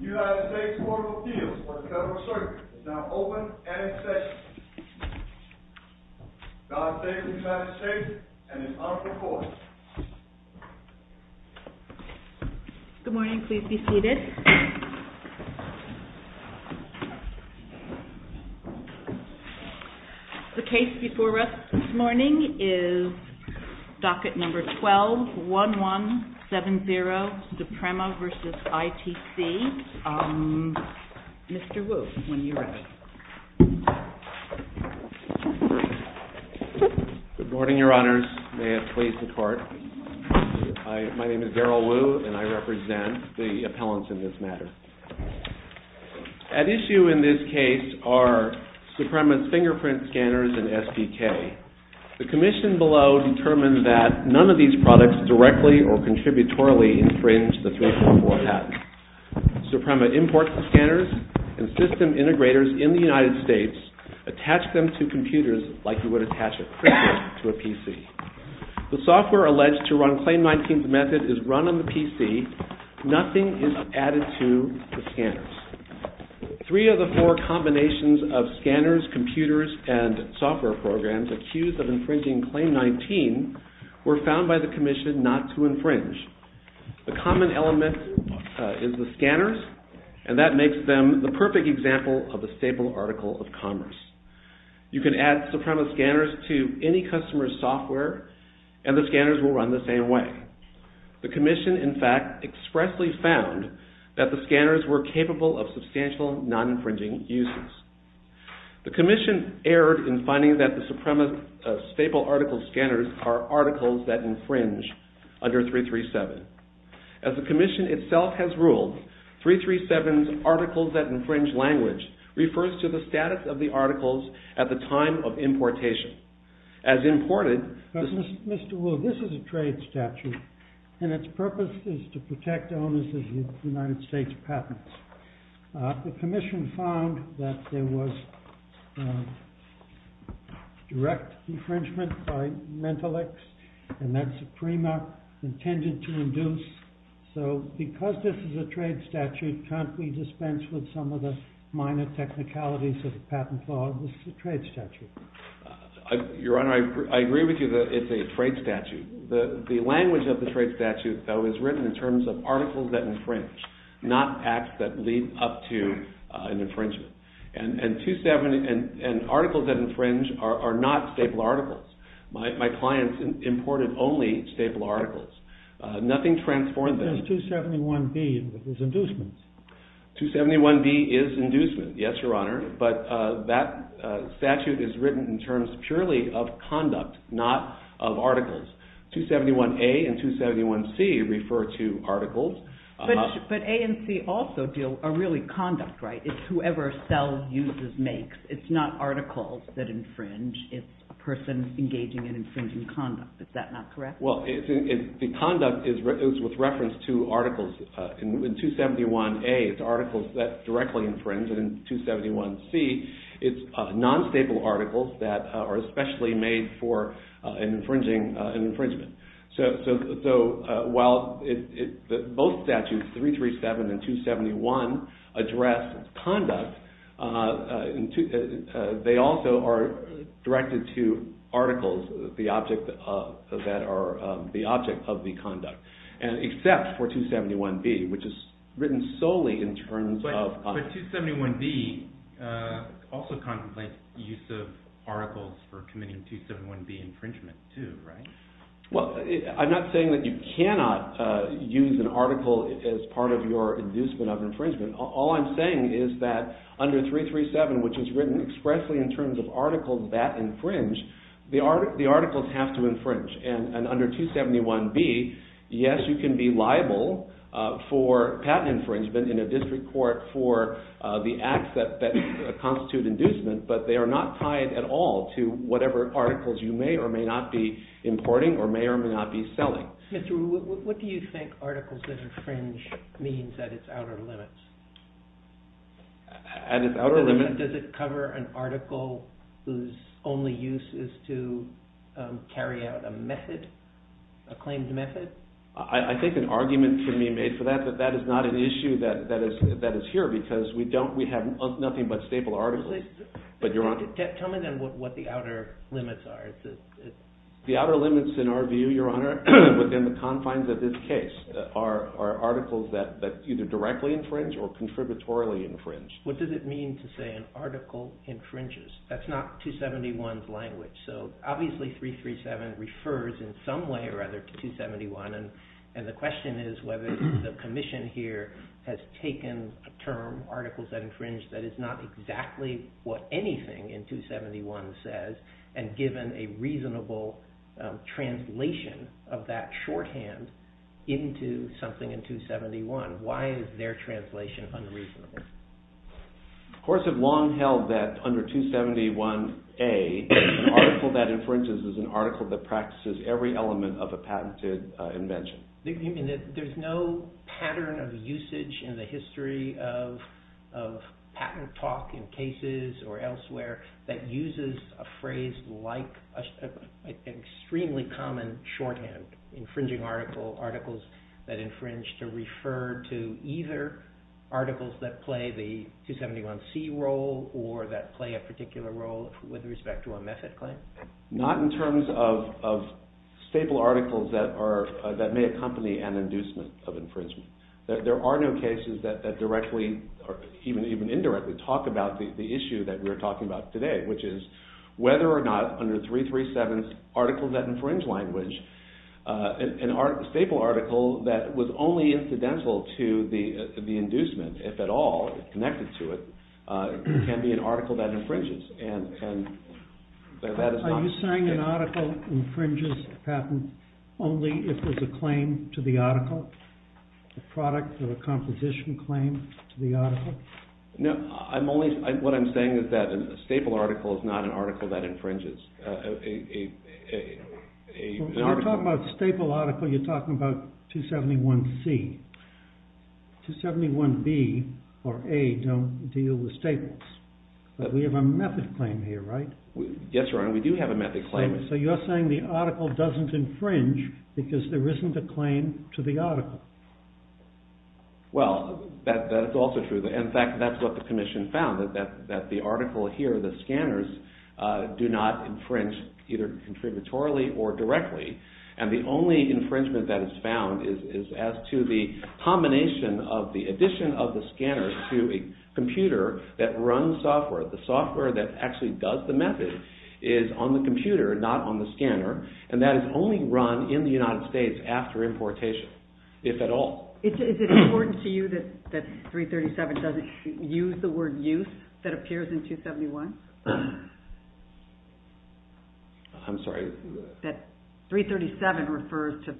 The United States Court of Appeals for the Federal Circuit is now open and in session. God Save the United States and His Honorable Court. Good morning. Please be seated. The case before us this morning is Docket Number 12-1170, Suprema v. ITC. Mr. Wu, when you're ready. Good morning, Your Honors. May I please depart? My name is Daryl Wu and I represent the appellants in this matter. At issue in this case are Suprema's fingerprint scanners and SDK. The commission below determined that none of these products directly or contributorily infringe the filter of what happens. Suprema imports the scanners and system integrators in the United States attach them to computers like you would attach a printer to a PC. The software alleged to run Claim 19's method is run on the PC. Nothing is added to the scanners. Three of the four combinations of scanners, computers, and software programs accused of infringing Claim 19 were found by the commission not to infringe. The common element is the scanners and that makes them the perfect example of a stable article of commerce. You can add Suprema scanners to any customer's software and the scanners will run the same way. The commission, in fact, expressly found that the scanners were capable of substantial non-infringing uses. The commission erred in finding that the Suprema staple article scanners are articles that infringe under 337. As the commission itself has ruled, 337's articles that infringe language refers to the status of the articles at the time of importation. As imported... Mr. Wood, this is a trade statute and its purpose is to protect owners of the United States patents. The commission found that there was direct infringement by Mentolix and that Suprema intended to induce. So, because this is a trade statute, can't we dispense with some of the minor technicalities of the patent law? This is a trade statute. Your Honor, I agree with you that it's a trade statute. The language of the trade statute, though, is written in terms of articles that infringe, not acts that lead up to an infringement. And articles that infringe are not staple articles. My clients imported only staple articles. Nothing transformed them. 271B is inducement. 271B is inducement, yes, Your Honor, but that statute is written in terms purely of conduct, not of articles. 271A and 271C refer to articles. But A and C also deal, are really conduct, right? It's whoever sells, uses, makes. It's not articles that infringe. It's a person engaging in infringing conduct. Is that not correct? Well, the conduct is with reference to articles. In 271A, it's articles that directly infringe. And in 271C, it's non-staple articles that are especially made for an infringement. So while both statutes, 337 and 271, address conduct, they also are directed to articles that are the object of the conduct, except for 271B, which is written solely in terms of conduct. But 271B also contemplates use of articles for committing 271B infringement, too, right? Well, I'm not saying that you cannot use an article as part of your inducement of infringement. All I'm saying is that under 337, which is written expressly in terms of articles that infringe, the articles have to infringe. And under 271B, yes, you can be liable for patent infringement in a district court for the acts that constitute inducement, but they are not tied at all to whatever articles you may or may not be importing or may or may not be selling. Mr. Wu, what do you think articles that infringe means at its outer limits? At its outer limits? Does it cover an article whose only use is to carry out a method, a claimed method? I think an argument can be made for that, but that is not an issue that is here because we have nothing but staple articles. Tell me then what the outer limits are. The outer limits in our view, Your Honor, within the confines of this case are articles that either directly infringe or contributorily infringe. What does it mean to say an article infringes? That's not 271's language. So obviously 337 refers in some way or other to 271, and the question is whether the commission here has taken a term, articles that infringe, that is not exactly what anything in 271 says and given a reasonable translation of that shorthand into something in 271. So why is their translation unreasonable? Courts have long held that under 271A, an article that infringes is an article that practices every element of a patented invention. There's no pattern of usage in the history of patent talk in cases or elsewhere that uses a phrase like an extremely common shorthand, infringing article, articles that infringe, to refer to either articles that play the 271C role or that play a particular role with respect to a method claim? Not in terms of staple articles that may accompany an inducement of infringement. There are no cases that directly or even indirectly talk about the issue that we're talking about today, which is whether or not under 337's article that infringes language, a staple article that was only incidental to the inducement, if at all, connected to it, can be an article that infringes. Are you saying an article infringes a patent only if there's a claim to the article, a product of a composition claim to the article? No, what I'm saying is that a staple article is not an article that infringes. When you talk about staple article, you're talking about 271C. 271B or A don't deal with staples. But we have a method claim here, right? Yes, Your Honor, we do have a method claim. So you're saying the article doesn't infringe because there isn't a claim to the article. Well, that's also true. In fact, that's what the commission found, that the article here, the scanners, do not infringe either contributorily or directly. And the only infringement that is found is as to the combination of the addition of the scanner to a computer that runs software. The software that actually does the method is on the computer, not on the scanner. And that is only run in the United States after importation, if at all. Is it important to you that 337 doesn't use the word use that appears in 271? I'm sorry? That 337 refers to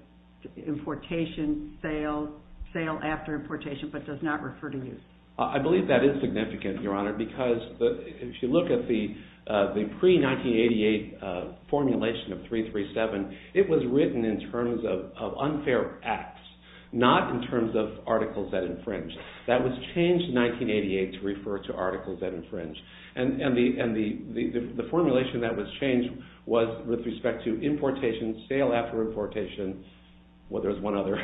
importation, sale, sale after importation, but does not refer to use. I believe that is significant, Your Honor, because if you look at the pre-1988 formulation of 337, it was written in terms of unfair acts. Not in terms of articles that infringe. That was changed in 1988 to refer to articles that infringe. And the formulation that was changed was with respect to importation, sale after importation, well, there's one other,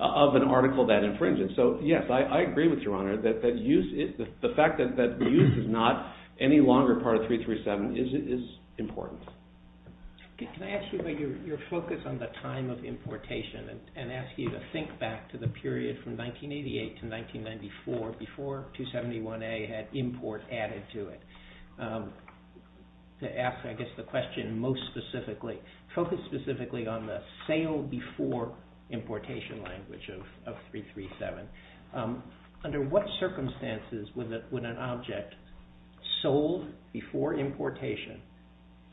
of an article that infringes. So, yes, I agree with you, Your Honor, that the fact that use is not any longer part of 337 is important. Can I ask you your focus on the time of importation and ask you to think back to the period from 1988 to 1994 before 271A had import added to it? To ask, I guess, the question most specifically, focus specifically on the sale before importation language of 337. Under what circumstances would an object sold before importation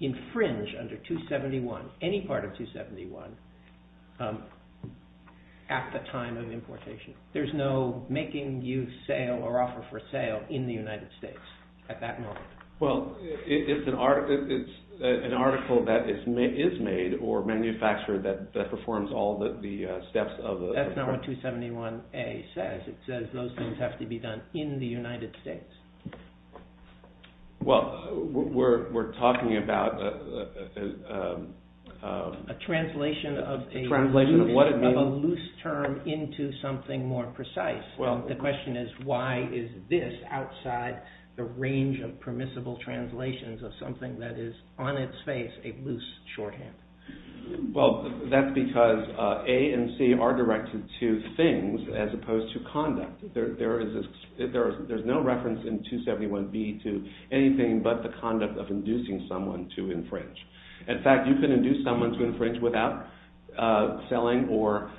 infringe under 271, any part of 271, at the time of importation? There's no making use, sale, or offer for sale in the United States at that moment. Well, it's an article that is made or manufactured that performs all the steps of a- That's not what 271A says. It says those things have to be done in the United States. Well, we're talking about- A translation of a loose term into something more precise. Well, the question is why is this outside the range of permissible translations of something that is on its face a loose shorthand? Well, that's because A and C are directed to things as opposed to conduct. There's no reference in 271B to anything but the conduct of inducing someone to infringe. In fact, you can induce someone to infringe without selling or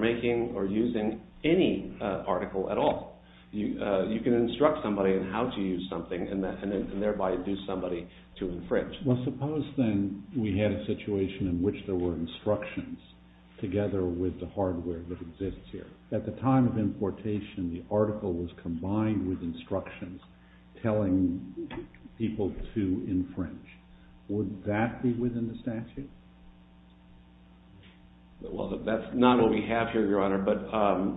making or using any article at all. You can instruct somebody on how to use something and thereby induce somebody to infringe. Well, suppose then we had a situation in which there were instructions together with the hardware that exists here. At the time of importation, the article was combined with instructions telling people to infringe. Would that be within the statute? Well, that's not what we have here, Your Honor, but- Yeah,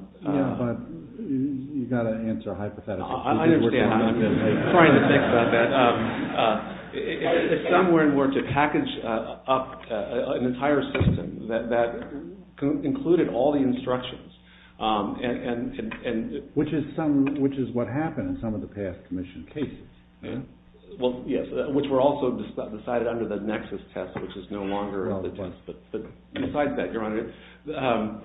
but you've got to answer a hypothetical. I understand what you're trying to say. If someone were to package up an entire system that included all the instructions and- Which is what happened in some of the past commission cases. Well, yes, which were also decided under the Nexus test, which is no longer the test, but besides that, Your Honor,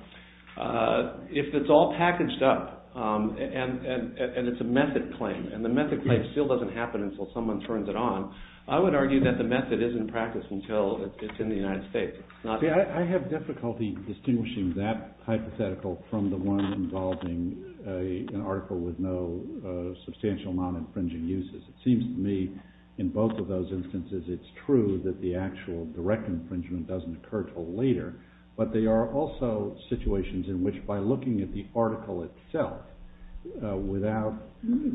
if it's all packaged up and it's a method claim, and the method claim still doesn't happen until someone turns it on, I would argue that the method isn't practiced until it's in the United States. See, I have difficulty distinguishing that hypothetical from the one involving an article with no substantial non-infringing uses. It seems to me in both of those instances it's true that the actual direct infringement doesn't occur until later, but there are also situations in which, by looking at the article itself without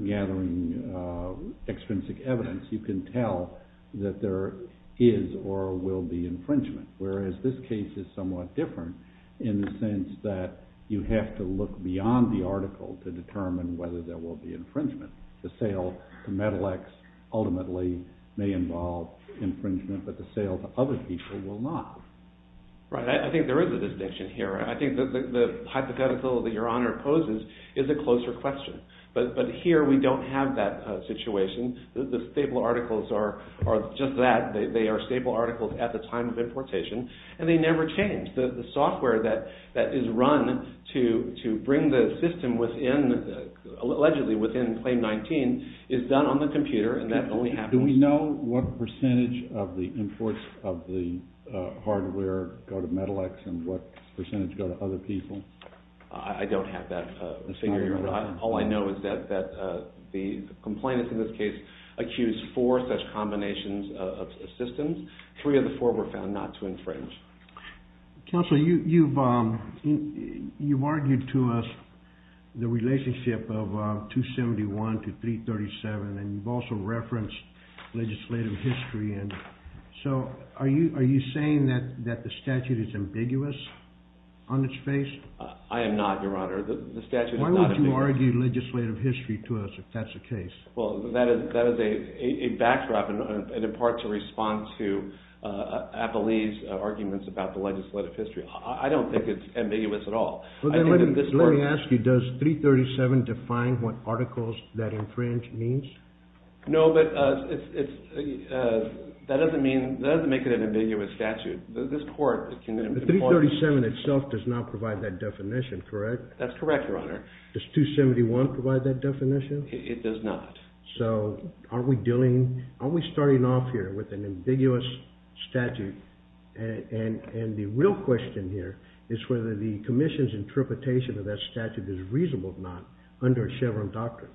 gathering extrinsic evidence, you can tell that there is or will be infringement, whereas this case is somewhat different in the sense that you have to look beyond the article to determine whether there will be infringement. The sale to Medilex ultimately may involve infringement, but the sale to other people will not. Right, I think there is a distinction here. I think the hypothetical that Your Honor poses is a closer question, but here we don't have that situation. The stable articles are just that. They are stable articles at the time of importation, and they never change. The software that is run to bring the system within, allegedly within Claim 19, is done on the computer, and that only happens... Do we know what percentage of the imports of the hardware go to Medilex and what percentage go to other people? I don't have that information. All I know is that the complainants in this case accused four such combinations of systems. Three of the four were found not to infringe. Counselor, you've argued to us the relationship of 271 to 337, and you've also referenced legislative history. So, are you saying that the statute is ambiguous on its face? I am not, Your Honor. Why would you argue legislative history to us if that's the case? Well, that is a backdrop, and in part to respond to Appleby's arguments about the legislative history. I don't think it's ambiguous at all. Well, then let me ask you, does 337 define what articles that infringe means? No, but that doesn't make it an ambiguous statute. The 337 itself does not provide that definition, correct? That's correct, Your Honor. Does 271 provide that definition? It does not. So, are we starting off here with an ambiguous statute? And the real question here is whether the commission's interpretation of that statute is reasonable or not under Chevron doctrine.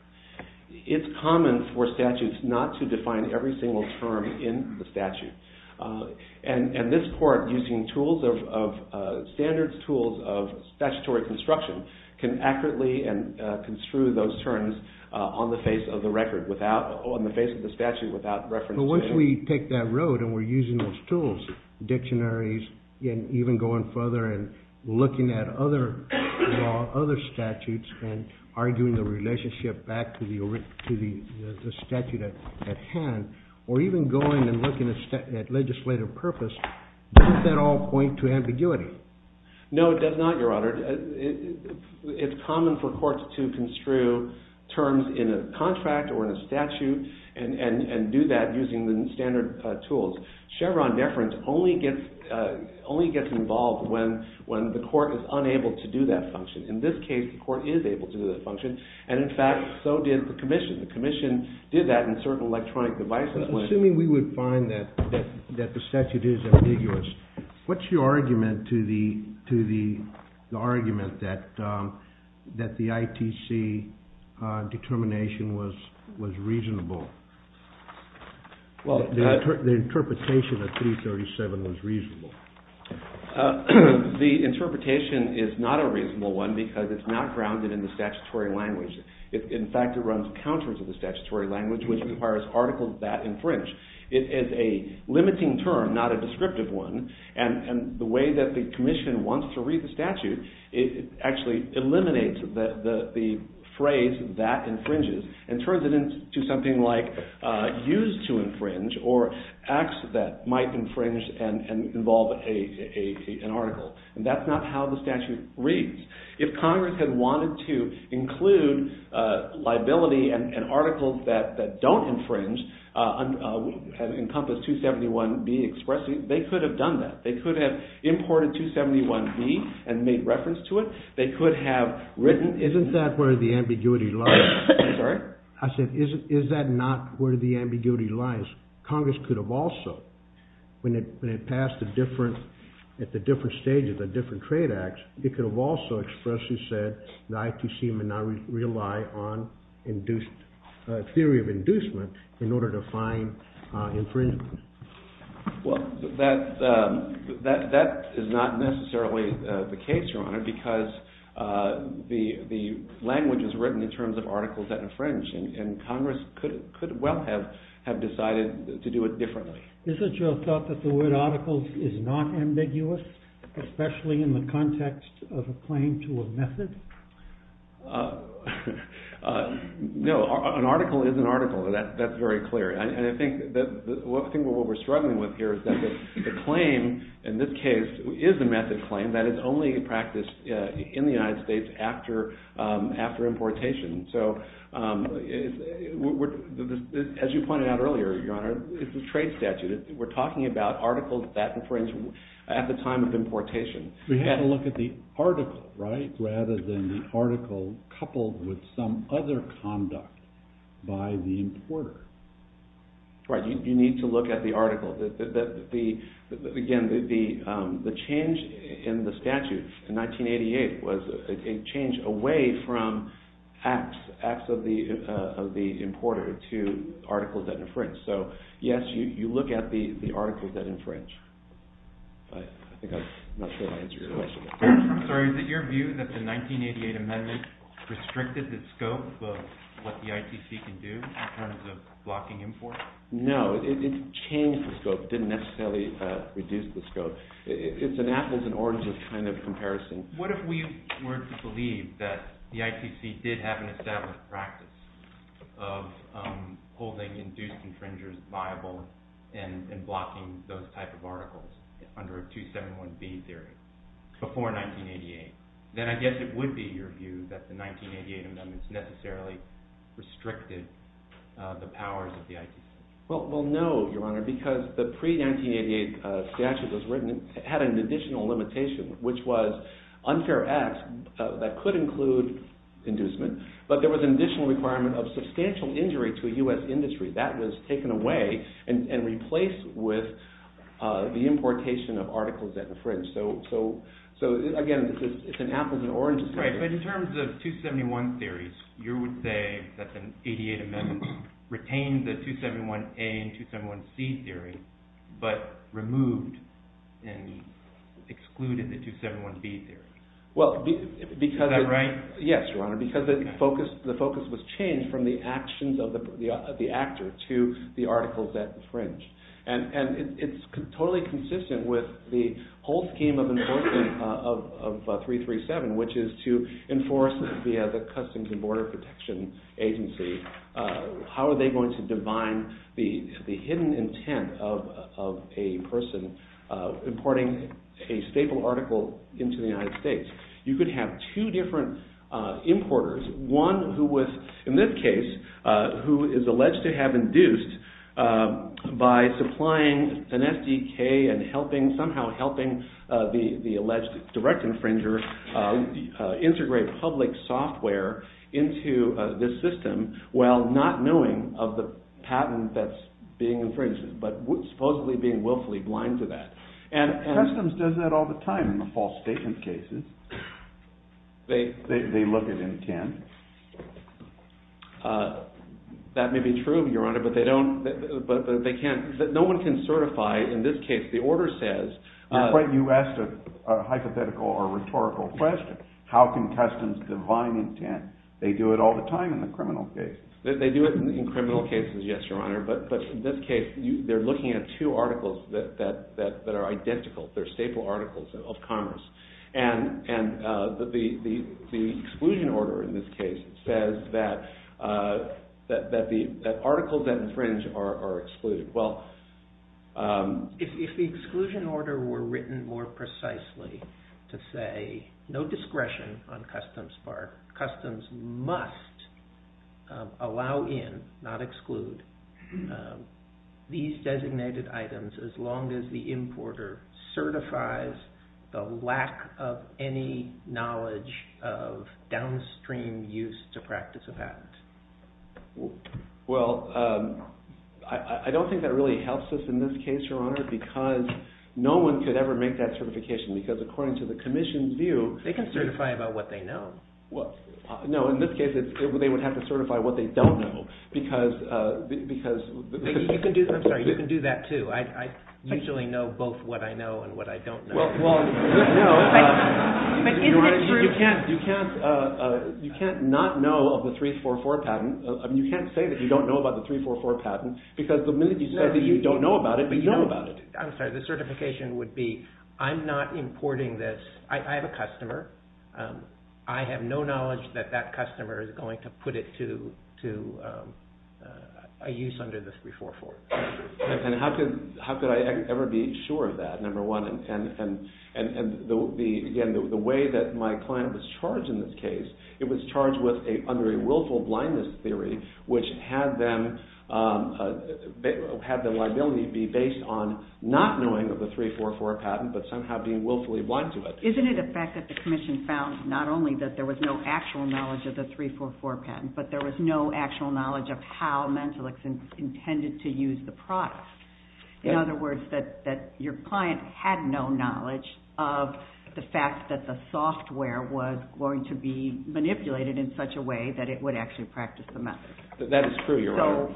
It's common for statutes not to define every single term in the statute. And this court, using standard tools of statutory construction, can accurately construe those terms on the face of the statute without reference to Chevron. But once we take that road and we're using those tools, dictionaries, and even going further and looking at other statutes and arguing the relationship back to the statute at hand, or even going and looking at legislative purpose, doesn't that all point to ambiguity? No, it does not, Your Honor. It's common for courts to construe terms in a contract or in a statute and do that using the standard tools. Chevron deference only gets involved when the court is unable to do that function. In this case, the court is able to do that function, and in fact, so did the commission. The commission did that in certain electronic devices. Assuming we would find that the statute is ambiguous, what's your argument to the argument that the ITC determination was reasonable? The interpretation of 337 was reasonable. The interpretation is not a reasonable one because it's not grounded in the statutory language. In fact, it runs counters in the statutory language, which requires articles that infringe. It is a limiting term, not a descriptive one, and the way that the commission wants to read the statute actually eliminates the phrase that infringes and turns it into something like used to infringe or acts that might infringe and involve an article. That's not how the statute reads. If Congress had wanted to include liability and articles that don't infringe and encompass 271B expressly, they could have done that. They could have imported 271B and made reference to it. They could have written. Isn't that where the ambiguity lies? I'm sorry? I said, is that not where the ambiguity lies? Congress could have also, when it passed at the different stages of different trade acts, they could have also expressly said the IPC would now rely on theory of inducement in order to find infringement. Well, that is not necessarily the case, Your Honor, because the language is written in terms of articles that infringe, and Congress could well have decided to do it differently. Is it your thought that the word articles is not ambiguous, especially in the context of a claim to a method? No. An article is an article. That's very clear. And I think what we're struggling with here is that the claim in this case is a method claim. That is only practiced in the United States after importation. So as you pointed out earlier, Your Honor, it's a trade statute. We're talking about articles that infringe at the time of importation. We have to look at the article, right, rather than the article coupled with some other conduct by the importer. Right. You need to look at the article. Again, the change in the statute in 1988 was a change away from acts of the importer to articles that infringe. So, yes, you look at the articles that infringe. I'm not sure I answered your question. So is it your view that the 1988 amendment restricted the scope of what the IPC can do in terms of blocking imports? No. It changed the scope. It didn't necessarily reduce the scope. It's an apples and oranges kind of comparison. What if we were to believe that the IPC did have an established practice of holding induced infringers viable and blocking those type of articles under a 271B theory before 1988? Then I guess it would be your view that the 1988 amendment necessarily restricted the powers of the IPC. Well, no, Your Honor, because the pre-1988 statute as written had an additional limitation, which was unfair acts that could include inducement, but there was an additional requirement of substantial injury to the U.S. industry. That was taken away and replaced with the importation of articles that infringe. So, again, it's an apples and oranges comparison. But in terms of 271 theories, you would say that the 1988 amendment retained the 271A and 271C theories, but removed and excluded the 271B theories. Is that right? Yes, Your Honor, because the focus was changed from the actions of the actor to the articles that infringed. And it's totally consistent with the whole scheme of enforcement of 337, which is to enforce the Customs and Border Protection Agency. How are they going to define the hidden intent of a person importing a staple article into the United States? You could have two different importers. One who was, in this case, who is alleged to have induced by supplying an FDK and helping, somehow helping the alleged direct infringer integrate public software into this system while not knowing of the patent that's being infringed, but supposedly being willfully blind to that. Customs does that all the time in the false statement cases. They look at intent. That may be true, Your Honor, but they don't, but they can't, no one can certify, in this case, the order says... But you asked a hypothetical or rhetorical question. How can Customs define intent? They do it all the time in the criminal case. They do it in criminal cases, yes, Your Honor, but in this case, they're looking at two articles that are identical. They're staple articles of commerce, and the exclusion order in this case says that articles that infringe are excluded. Well, if the exclusion order were written more precisely to say no discretion on Customs part, it certifies the lack of any knowledge of downstream use to practice a patent. Well, I don't think that really helps us in this case, Your Honor, because no one could ever make that certification, because according to the Commission's view... They can certify about what they know. Well, no, in this case, they would have to certify what they don't know, because... I'm sorry, you can do that, too. I usually know both what I know and what I don't know. Well, no, Your Honor, you can't not know of the 344 patent. You can't say that you don't know about the 344 patent, because the minute you say that you don't know about it, you don't know about it. I'm sorry, the certification would be, I'm not importing this. I have a customer. I have no knowledge that that customer is going to put it to a use under the 344. And how could I ever be sure of that, number one? And, again, the way that my client was charged in this case, it was charged under a willful blindness theory, which had the liability be based on not knowing of the 344 patent, but somehow being willfully blind to it. Isn't it a fact that the Commission found not only that there was no actual knowledge of the 344 patent, but there was no actual knowledge of how Mentalics intended to use the product? In other words, that your client had no knowledge of the fact that the software was going to be manipulated in such a way that it would actually practice the method. That is true.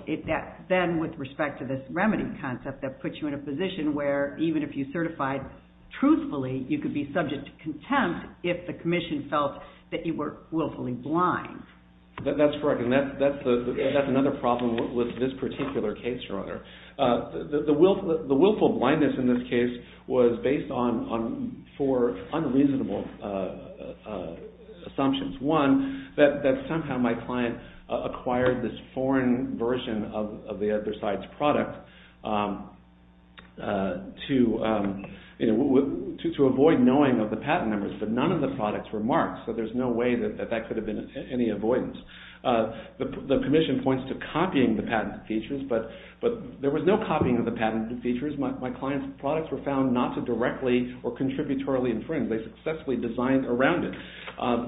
Then, with respect to this remedy concept that puts you in a position where even if you certified truthfully, you could be subject to contempt if the Commission felt that you were willfully blind. That's correct, and that's another problem with this particular case, rather. The willful blindness in this case was based on four unreasonable assumptions. One, that somehow my client acquired this foreign version of the other side's product to avoid knowing of the patent numbers, but none of the products were marked, so there's no way that that could have been any avoidance. The Commission points to copying the patent features, but there was no copying of the patent features. My client's products were found not to directly or contributorily infringe. They successfully designed around it.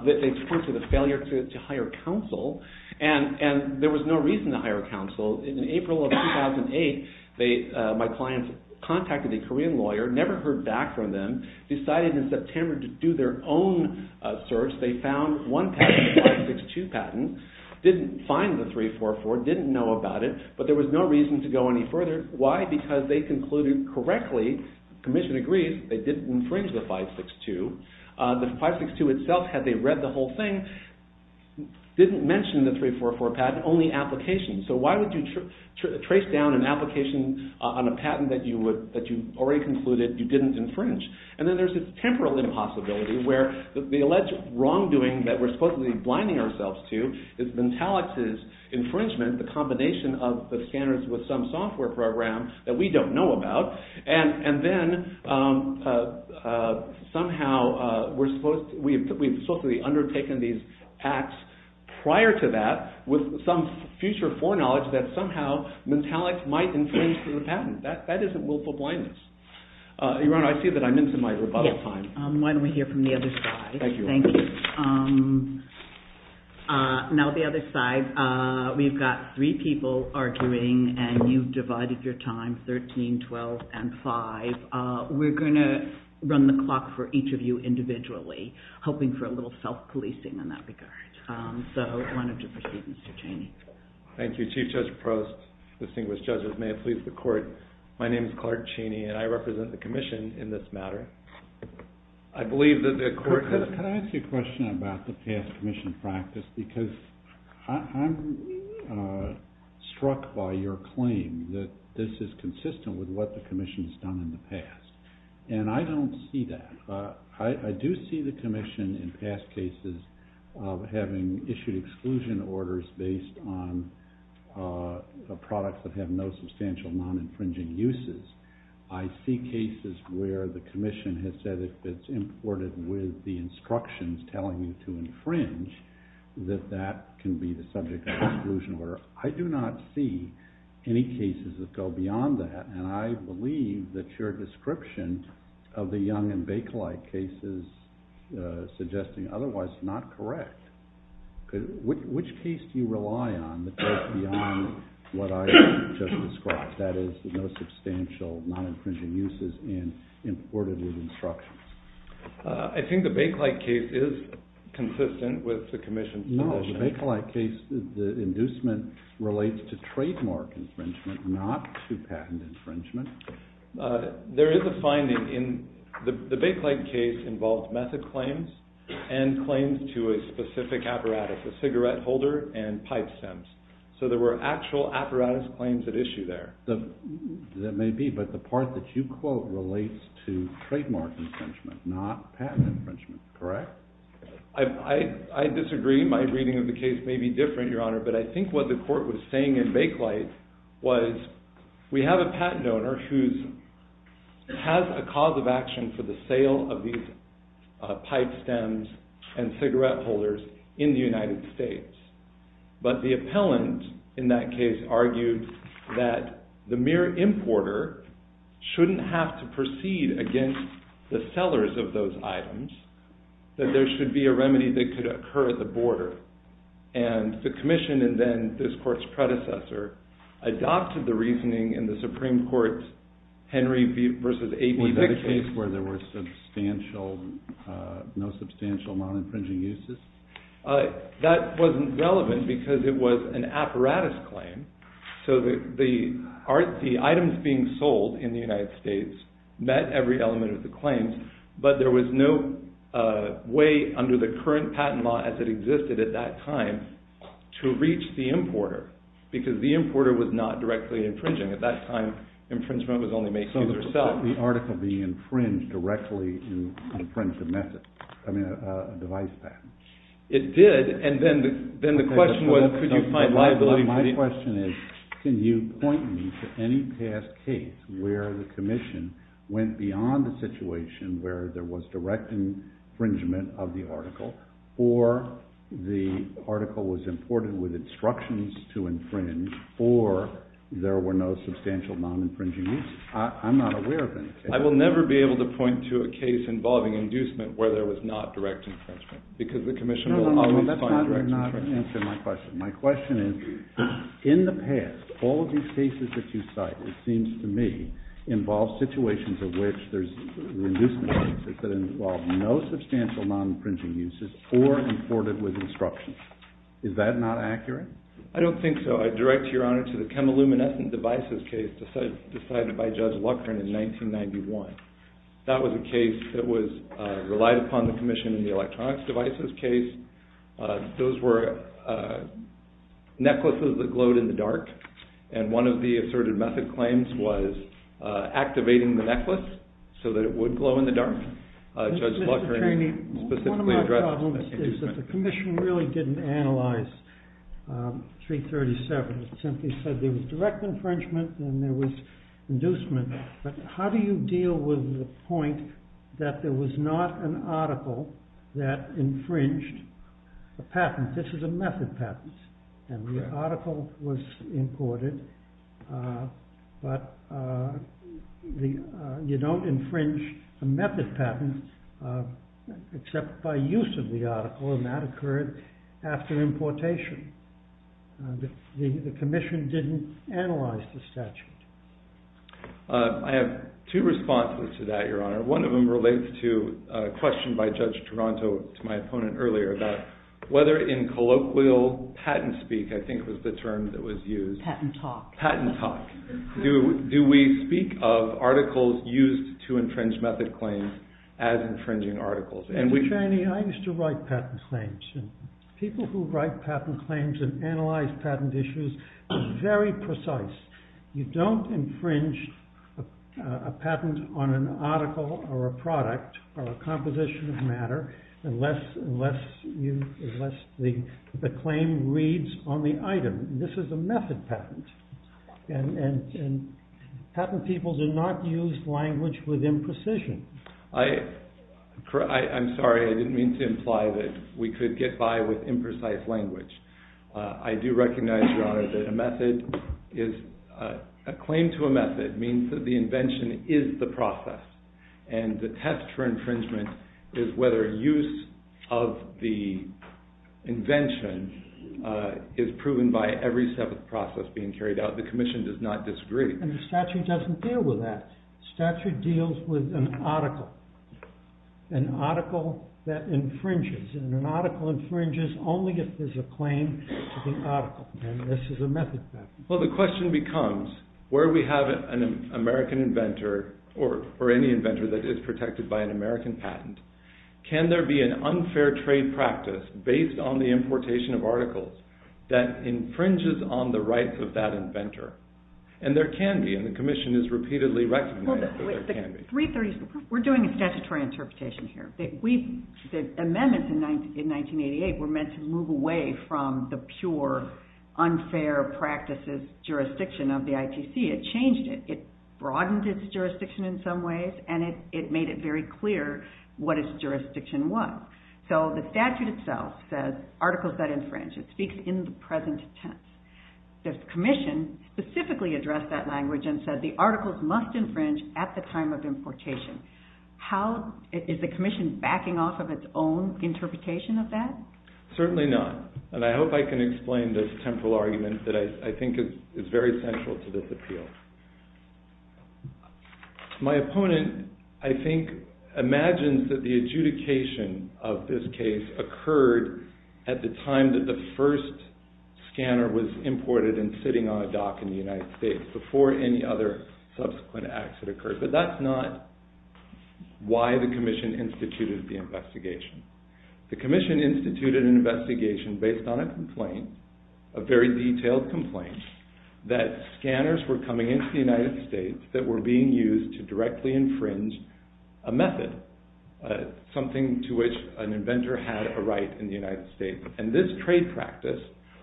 They point to the failure to hire counsel, and there was no reason to hire counsel. In April of 2008, my client contacted a Korean lawyer, never heard back from them, decided in September to do their own search. They found one patent, the 562 patent, didn't find the 344, didn't know about it, but there was no reason to go any further. Why? Because they concluded correctly, the Commission agrees, they didn't infringe the 562. The 562 itself, had they read the whole thing, didn't mention the 344 patent, only applications. So why would you trace down an application on a patent that you already concluded you didn't infringe? And then there's a temporal impossibility where the alleged wrongdoing that we're supposedly blinding ourselves to is Mentallix's infringement, the combination of the scanners with some software program that we don't know about, and then somehow we're supposed to be undertaking these acts prior to that with some future foreknowledge that somehow Mentallix might infringe the patent. That isn't willful blindness. Iran, I see that I'm into my rebuttal time. Why don't we hear from the other side. Thank you. Now the other side, we've got three people arguing, and you've divided your time, 13, 12, and 5. We're going to run the clock for each of you individually, hoping for a little self-policing in that regard. So why don't you proceed, Mr. Cheney. Thank you, Chief Judge Prost, distinguished judges, may it please the court. My name is Clark Cheney, and I represent the commission in this matter. I believe that the court could have... Could I ask a question about the past commission practice? Because I'm struck by your claim that this is consistent with what the commission has done in the past, and I don't see that. I do see the commission in past cases of having issued exclusion orders based on products that have no substantial non-infringing uses. I see cases where the commission has said if it's imported with the instructions telling you to infringe, that that can be the subject of an exclusion order. I do not see any cases that go beyond that, and I believe that your description of the Young and Bakelite case is suggesting otherwise not correct. Which case do you rely on that goes beyond what I just described, that is the most substantial non-infringing uses and imported with instructions? I think the Bakelite case is consistent with the commission's position. In the Bakelite case, the inducement relates to trademark infringement, not to patent infringement? There is a finding in the Bakelite case involves method claims and claims to a specific apparatus, a cigarette holder and pipe scents. So there were actual apparatus claims at issue there. That may be, but the part that you quote relates to trademark infringement, not patent infringement, correct? I disagree. My reading of the case may be different, Your Honor, but I think what the court was saying in Bakelite was we have a patent owner who has a cause of action for the sale of these pipe scents and cigarette holders in the United States. But the appellant in that case argued that the mere importer shouldn't have to proceed against the sellers of those items, that there should be a remedy that could occur at the border. And the commission, and then this court's predecessor, adopted the reasoning in the Supreme Court's Henry v. 1815. Was there a case where there were no substantial non-infringing uses? That wasn't relevant because it was an apparatus claim. So the items being sold in the United States met every element of the claim, but there was no way under the current patent law as it existed at that time to reach the importer, because the importer was not directly infringing. At that time, infringement was only made to the seller. Was the article being infringed directly in the print of the device patents? It did, and then the question was, could you find liability? My question is, can you point me to any past case where the commission went beyond the situation where there was direct infringement of the article, or the article was imported with instructions to infringe, or there were no substantial non-infringing uses? I'm not aware of any. I will never be able to point to a case involving inducement where there was not direct infringement, because the commission— No, that's not going to answer my question. My question is, in the past, all of these cases that you cite, it seems to me, involve situations in which there's inducement that could involve no substantial non-infringing uses or imported with instructions. Is that not accurate? I don't think so. I direct your honor to the chemiluminescent devices case decided by Judge Lutgren in 1991. That was a case that relied upon the commission in the electronics devices case. Those were necklaces that glowed in the dark, and one of the asserted method claims was activating the necklace so that it would glow in the dark. One of my problems is that the commission really didn't analyze 337. It simply said there was direct infringement and there was inducement, but how do you deal with the point that there was not an article that infringed a patent? This is a method patent, and the article was imported, but you don't infringe a method patent except by use of the article, and that occurred after importation. The commission didn't analyze the statute. I have two responses to that, your honor. One of them relates to a question by Judge Toronto to my opponent earlier about whether in colloquial patent speak, I think was the term that was used. Patent talk. Patent talk. Do we speak of articles used to infringe method claims as infringing articles? Mr. Cheney, I used to write patent claims, and people who write patent claims and analyze patent issues are very precise. You don't infringe a patent on an article or a product or a composition of matter unless the claim reads on the item. This is a method patent, and patent people do not use language with imprecision. I'm sorry. I didn't mean to imply that we could get by with imprecise language. I do recognize, your honor, that a claim to a method means that the invention is the process, and the test for infringement is whether use of the invention is proven by every step of the process being carried out. The commission does not disagree. And the statute doesn't deal with that. Statute deals with an article. An article that infringes, and an article infringes only if there's a claim to the article, and this is a method patent. Well, the question becomes, where we have an American inventor, or any inventor that is protected by an American patent, can there be an unfair trade practice based on the importation of articles that infringes on the rights of that inventor? And there can be, and the commission has repeatedly recognized that there can be. We're doing a statutory interpretation here. The amendments in 1988 were meant to move away from the pure unfair practices jurisdiction of the ITC. It changed it. It broadened its jurisdiction in some ways, and it made it very clear what its jurisdiction was. So the statute itself says, articles that infringe. It speaks in the present tense. The commission specifically addressed that language and said, the articles must infringe at the time of importation. Is the commission backing off of its own interpretation of that? Certainly not. And I hope I can explain this temporal argument that I think is very central to this appeal. My opponent, I think, imagines that the adjudication of this case occurred at the time that the first scanner was imported and sitting on a dock in the United States, before any other subsequent acts had occurred. But that's not why the commission instituted the investigation. The commission instituted an investigation based on a complaint, a very detailed complaint, that scanners were coming into the United States that were being used to directly infringe a method, something to which an inventor had a right in the United States. And this trade practice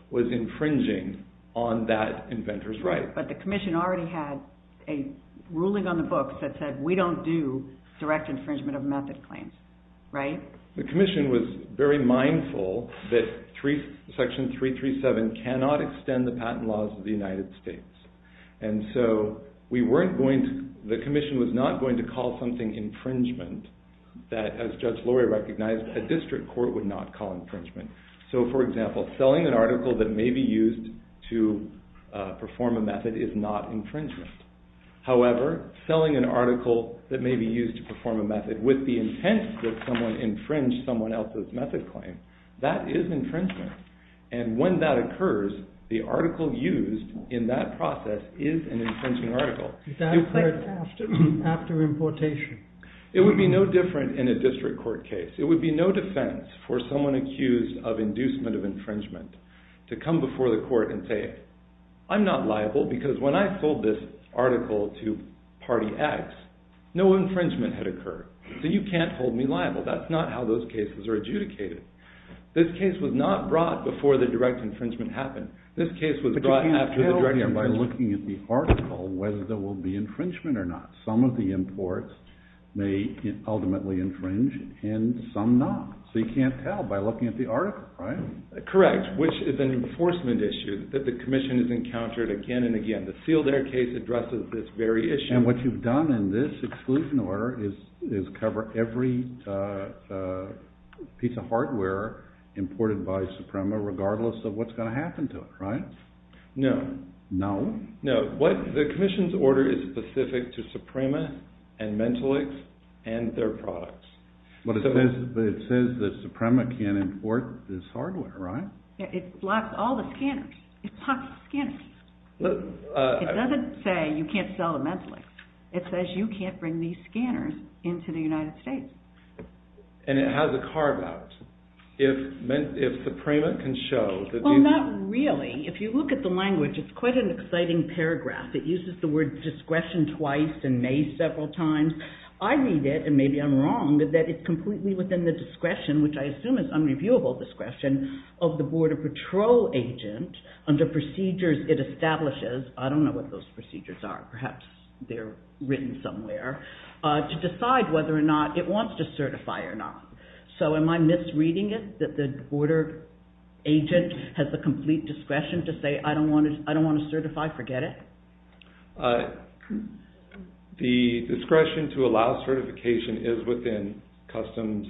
was infringing on that inventor's right. But the commission already had a ruling on the books that said, we don't do direct infringement of method claims, right? So the commission was very mindful that Section 337 cannot extend the patent laws of the United States. And so the commission was not going to call something infringement that, as Judge Lurie recognized, a district court would not call infringement. So, for example, selling an article that may be used to perform a method is not infringement. However, selling an article that may be used to perform a method with the intent that someone infringed someone else's method claim, that is infringement. And when that occurs, the article used in that process is an infringing article. After importation. It would be no different in a district court case. It would be no defense for someone accused of inducement of infringement to come before the court and say, I'm not liable because when I pulled this article to party X, no infringement had occurred. So you can't hold me liable. That's not how those cases are adjudicated. This case was not brought before the direct infringement happened. This case was brought after the direct infringement. By looking at the article, whether there will be infringement or not. Some of the imports may ultimately infringe, and some not. So you can't tell by looking at the article, right? Correct. Which is an enforcement issue that the commission has encountered again and again. The Field Air case addresses this very issue. And what you've done in this exclusion order is cover every piece of hardware imported by Suprema, regardless of what's going to happen to it, right? No. No? No. The commission's order is specific to Suprema and Mentolix and their products. But it says that Suprema can't import this hardware, right? It blocks all the scanners. It blocks the scanners. It doesn't say you can't sell to Mentolix. It says you can't bring these scanners into the United States. And it has a carve-out. If Suprema can show that you can... Not really. If you look at the language, it's quite an exciting paragraph. It uses the word discretion twice and may several times. I read it, and maybe I'm wrong, that it's completely within the discretion, which I assume is unreviewable discretion, of the Border Patrol agent under procedures it establishes. I don't know what those procedures are. Perhaps they're written somewhere, to decide whether or not it wants to certify or not. So, am I misreading it, that the border agent has the complete discretion to say, I don't want to certify, forget it? The discretion to allow certification is within customs...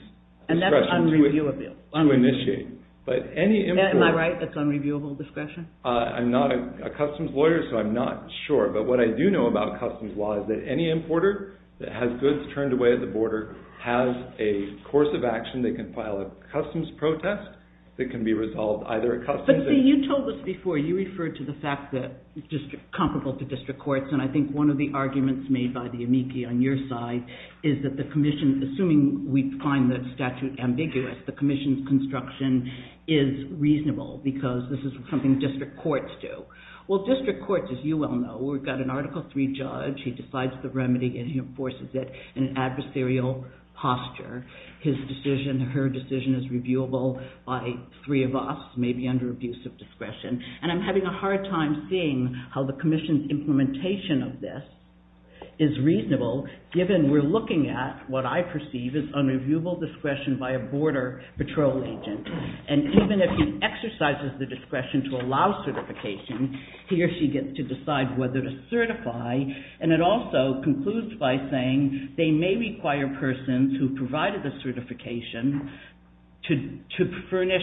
And that's unreviewable. Unreviewable discretion. But any importer... Am I right, that's unreviewable discretion? I'm not a customs lawyer, so I'm not sure. But what I do know about customs law is that any importer that has goods turned away at the border has a course of action. They can file a customs protest that can be resolved either at customs... But you told us before, you referred to the fact that it's just comparable to district courts. And I think one of the arguments made by the amici on your side is that the commission... Assuming we find the statute ambiguous, the commission's construction is reasonable, because this is something district courts do. Well, district courts, as you well know, we've got an Article III judge. He decides the remedy and he enforces it in an adversarial posture. His decision, her decision is reviewable by three of us, maybe under abuse of discretion. And I'm having a hard time seeing how the commission's implementation of this is reasonable, given we're looking at what I perceive as unreviewable discretion by a border patrol agent. And even if he exercises the discretion to allow certification, he or she gets to decide whether to certify. And it also concludes by saying they may require persons who provided the certification to furnish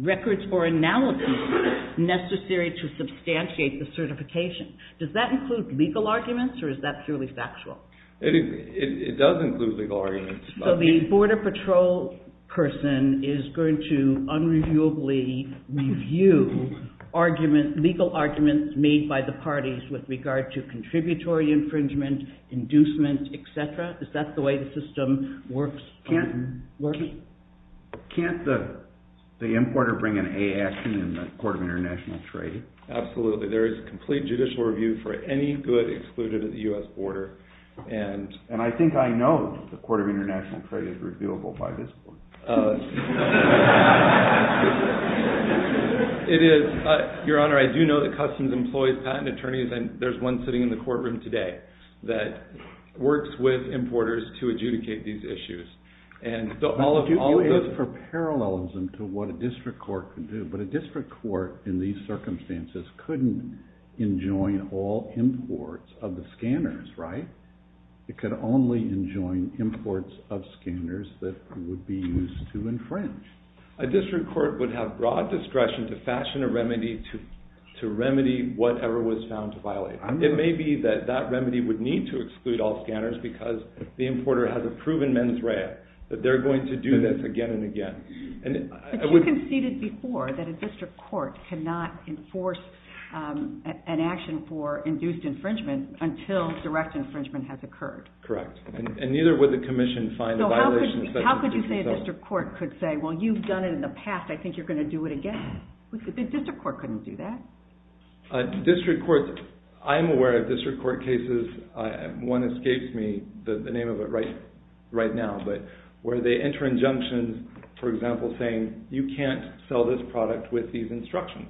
records or analysis necessary to substantiate the certification. Does that include legal arguments, or is that purely factual? It does include legal arguments. So the border patrol person is going to unreviewably review legal arguments made by the parties with regard to contributory infringement, inducement, etc.? Is that the way the system works? Can't the importer bring an A action in the Court of International Trade? Absolutely. There is complete judicial review for any good excluded at the U.S. border. And I think I know that the Court of International Trade is reviewable by this board. It is. Your Honor, I do know that Customs employs patent attorneys, and there's one sitting in the courtroom today that works with importers to adjudicate these issues. Do you look for parallels into what a district court could do? But a district court in these circumstances couldn't enjoin all imports of the scanners, right? It could only enjoin imports of scanners that would be used to infringe. A district court would have broad discretion to fashion a remedy to remedy whatever was found to violate. It may be that that remedy would need to exclude all scanners because the importer has a proven mens rea, that they're going to do this again and again. But you conceded before that a district court cannot enforce an action for induced infringement until direct infringement has occurred. Correct. And neither would the Commission find violations. So how could you say a district court could say, well, you've done it in the past, I think you're going to do it again? A district court couldn't do that. District courts, I'm aware of district court cases, one escapes me, the name of it right now, but where they enter injunctions, for example, saying you can't sell this product with these instructions,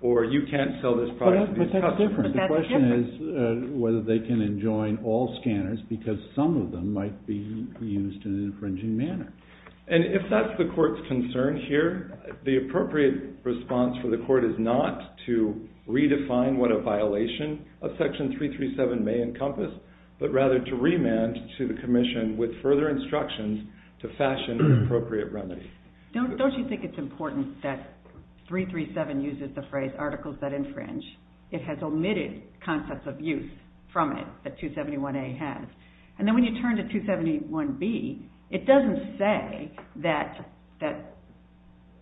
or you can't sell this product. The question is whether they can enjoin all scanners because some of them might be used in an infringing manner. And if that's the court's concern here, the appropriate response for the court is not to redefine what a violation of Section 337 may encompass, but rather to remand to the Commission with further instructions to fashion an appropriate remedy. Don't you think it's important that 337 uses the phrase articles that infringe? It has omitted concepts of use from it that 271A has. And then when you turn to 271B, it doesn't say that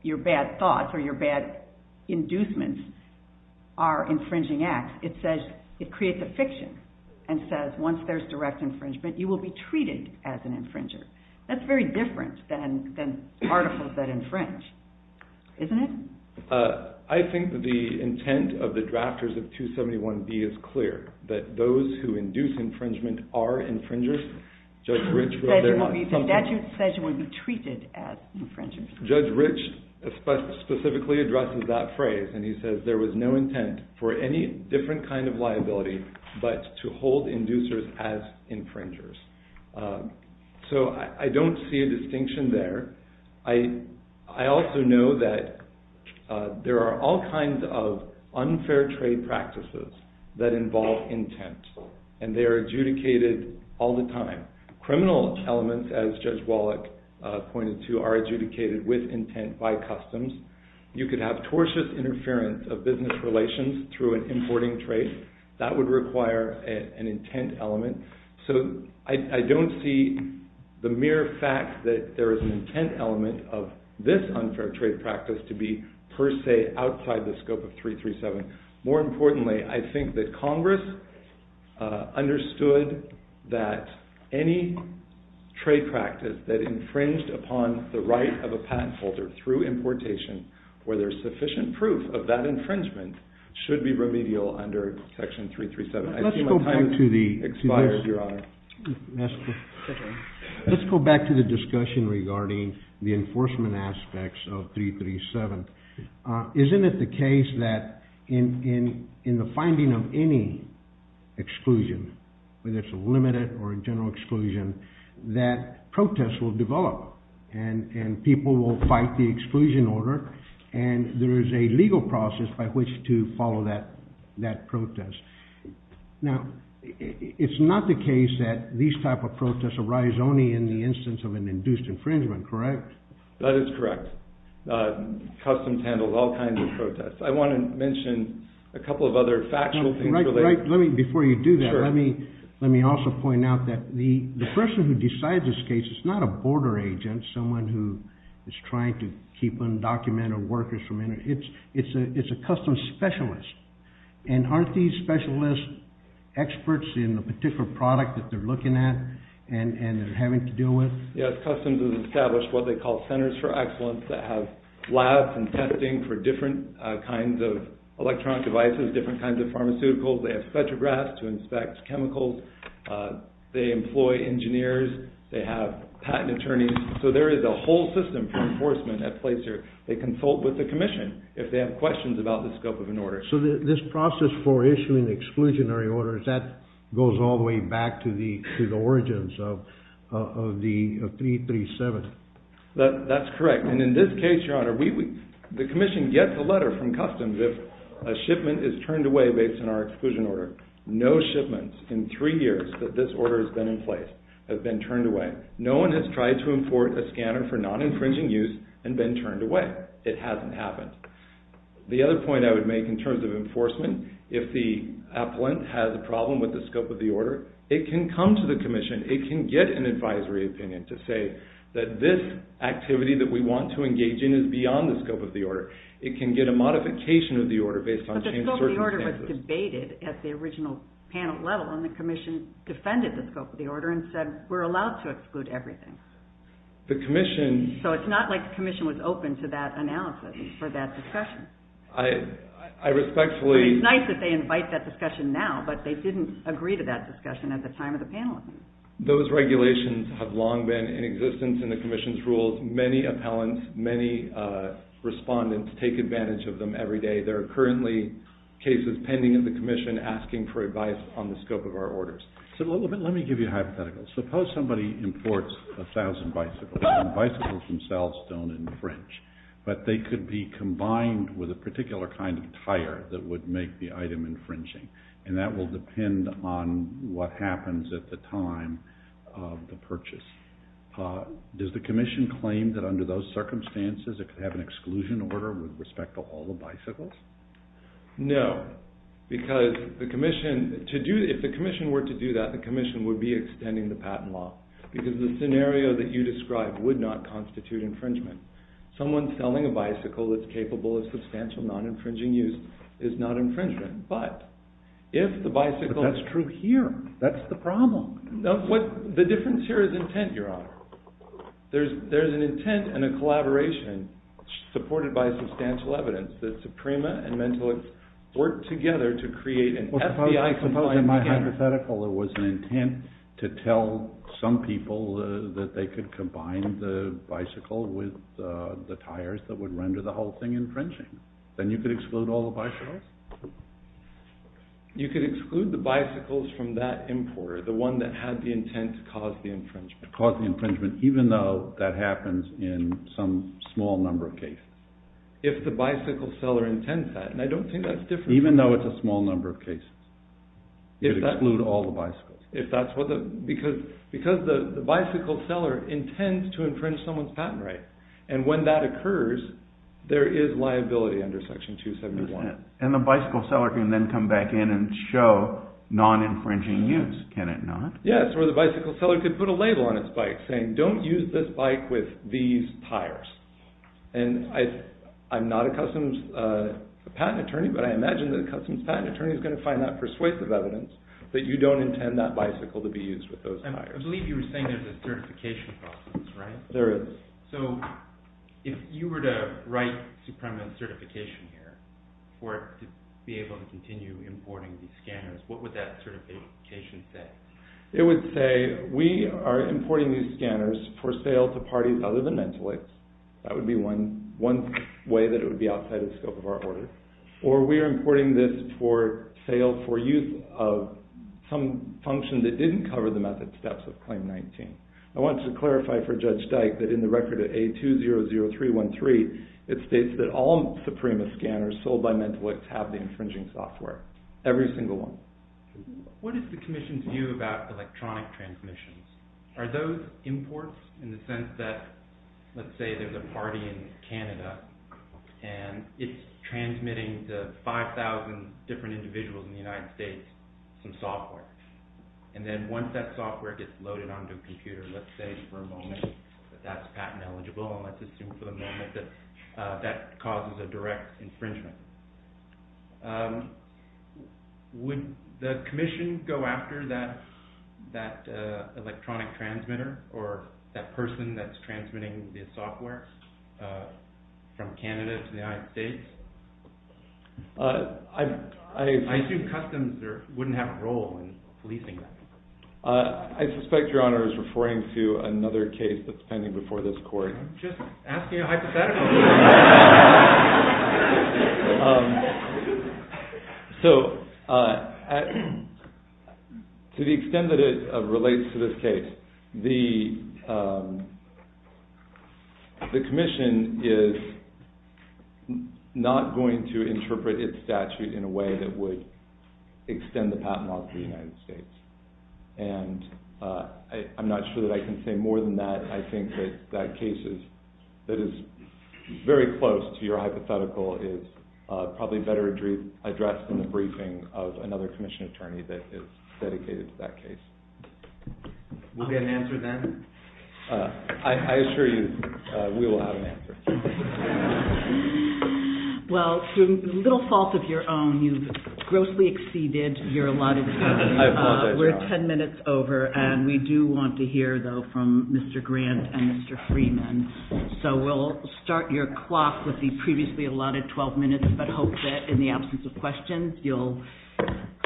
your bad thoughts or your bad inducements are infringing acts. It says it creates a fiction and says once there's direct infringement, you will be treated as an infringer. That's very different than articles that infringe, isn't it? I think the intent of the drafters of 271B is clear, that those who induce infringement are infringers. Judge Rich specifically addresses that phrase, and he says there was no intent for any different kind of liability but to hold inducers as infringers. So I don't see a distinction there. I also know that there are all kinds of unfair trade practices that involve intent, and they are adjudicated all the time. Criminal elements, as Judge Wallach pointed to, are adjudicated with intent by customs. You could have tortious interference of business relations through an importing trade. That would require an intent element. So I don't see the mere fact that there is an intent element of this unfair trade practice to be per se outside the scope of 337. More importantly, I think that Congress understood that any trade practice that infringed upon the right of a patent holder through importation, where there's sufficient proof of that infringement, should be remedial under Section 337. Let's go back to the discussion regarding the enforcement aspects of 337. Isn't it the case that in the finding of any exclusion, whether it's a limited or a general exclusion, that protests will develop, and people will fight the exclusion order, and there is a legal process by which to follow that protest? Now, it's not the case that these type of protests arise only in the instance of an induced infringement, correct? That is correct. Customs handles all kinds of protests. I want to mention a couple of other factual things. Before you do that, let me also point out that the person who decides this case is not a border agent, someone who is trying to keep undocumented workers from entering. It's a customs specialist. And aren't these specialists experts in the particular product that they're looking at and having to deal with? Yes, customs has established what they call centers for excellence that have labs and testing for different kinds of electronic devices, different kinds of pharmaceuticals. They have spectrographs to inspect chemicals. They employ engineers. They have patent attorneys. So there is a whole system for enforcement that plays here. They consult with the commission if they have questions about the scope of an order. So this process for issuing exclusionary orders, that goes all the way back to the origins of 337. That's correct. And in this case, Your Honor, the commission gets a letter from customs if a shipment is turned away based on our exclusion order. No shipments in three years that this order has been in place have been turned away. No one has tried to import a scanner for non-infringing use and been turned away. It hasn't happened. The other point I would make in terms of enforcement, if the appellant has a problem with the scope of the order, it can come to the commission. It can get an advisory opinion to say that this activity that we want to engage in is beyond the scope of the order. It can get a modification of the order based on certain circumstances. But the scope of the order was debated at the original panel level, and the commission defended the scope of the order and said we're allowed to exclude everything. The commission... So it's not like the commission was open to that analysis or that discussion. I respectfully... Those regulations have long been in existence in the commission's rules. Many appellants, many respondents take advantage of them every day. There are currently cases pending in the commission asking for advice on the scope of our orders. So let me give you a hypothetical. Suppose somebody imports 1,000 bicycles, and the bicycles themselves don't infringe. But they could be combined with a particular kind of tire that would make the item infringing, and that will depend on what happens at the time of the purchase. Does the commission claim that under those circumstances, it could have an exclusion order with respect to all the bicycles? No, because the commission... If the commission were to do that, the commission would be extending the patent law because the scenario that you described would not constitute infringement. Someone selling a bicycle that's capable of substantial non-infringing use is not infringement. But if the bicycle... But that's true here. That's the problem. The difference here is intent, Your Honor. There's an intent and a collaboration supported by substantial evidence that Suprema and Mentalist worked together to create an FBI-composed... In my hypothetical, it was an intent to tell some people that they could combine the bicycle with the tires that would render the whole thing infringing. Then you could exclude all the bicycles? You could exclude the bicycles from that importer, the one that had the intent to cause the infringement. Cause the infringement, even though that happens in some small number of cases. If the bicycle seller intends that, and I don't think that's different. Even though it's a small number of cases. You could exclude all the bicycles. If that's what the... Because the bicycle seller intends to infringe someone's patent rights, and when that occurs, there is liability under Section 271. And the bicycle seller can then come back in and show non-infringing use, can it not? Yes, or the bicycle seller could put a label on his bike saying, don't use this bike with these tires. And I'm not a customs patent attorney, but I imagine that a customs patent attorney is going to find that persuasive evidence that you don't intend that bicycle to be used with those tires. I believe you were saying there's a certification process, right? Yes, there is. So, if you were to write a permanent certification here, or be able to continue importing these scanners, what would that certification say? It would say, we are importing these scanners for sale to parties other than mental aids. That would be one way that it would be outside the scope of our order. Or we are importing this for sale for use of some function that didn't cover the method steps of Claim 19. I want to clarify for Judge Dyke that in the record of A200313, it states that all Suprema scanners filled by mental aids have the infringing software. Every single one. What is the Commission's view about electronic transmissions? Are those imports in the sense that, let's say there's a party in Canada, and it's transmitting to 5,000 different individuals in the United States some software. And then once that software gets loaded onto a computer, let's say for a moment that that's patent eligible, and let's assume for the moment that that causes a direct infringement. Would the Commission go after that electronic transmitter, or that person that's transmitting the software from Canada to the United States? I assume customs wouldn't have a role in releasing that. I suspect Your Honor is referring to another case that's pending before this court. I'm just asking a hypothetical. So, to the extent that it relates to this case, the Commission is not going to interpret its statute in a way that would extend the patent law to the United States. And I'm not sure that I can say more than that. I think that that case that is very close to your hypothetical is probably better addressed in the briefing of another Commission attorney that is dedicated to that case. We'll get an answer then? I assure you, we will have an answer. Well, to little fault of your own, you've grossly exceeded your allotted time. We're 10 minutes over, and we do want to hear, though, from Mr. Grant and Mr. Freeman. So, we'll start your clock with the previously allotted 12 minutes, but hope that in the absence of questions, you'll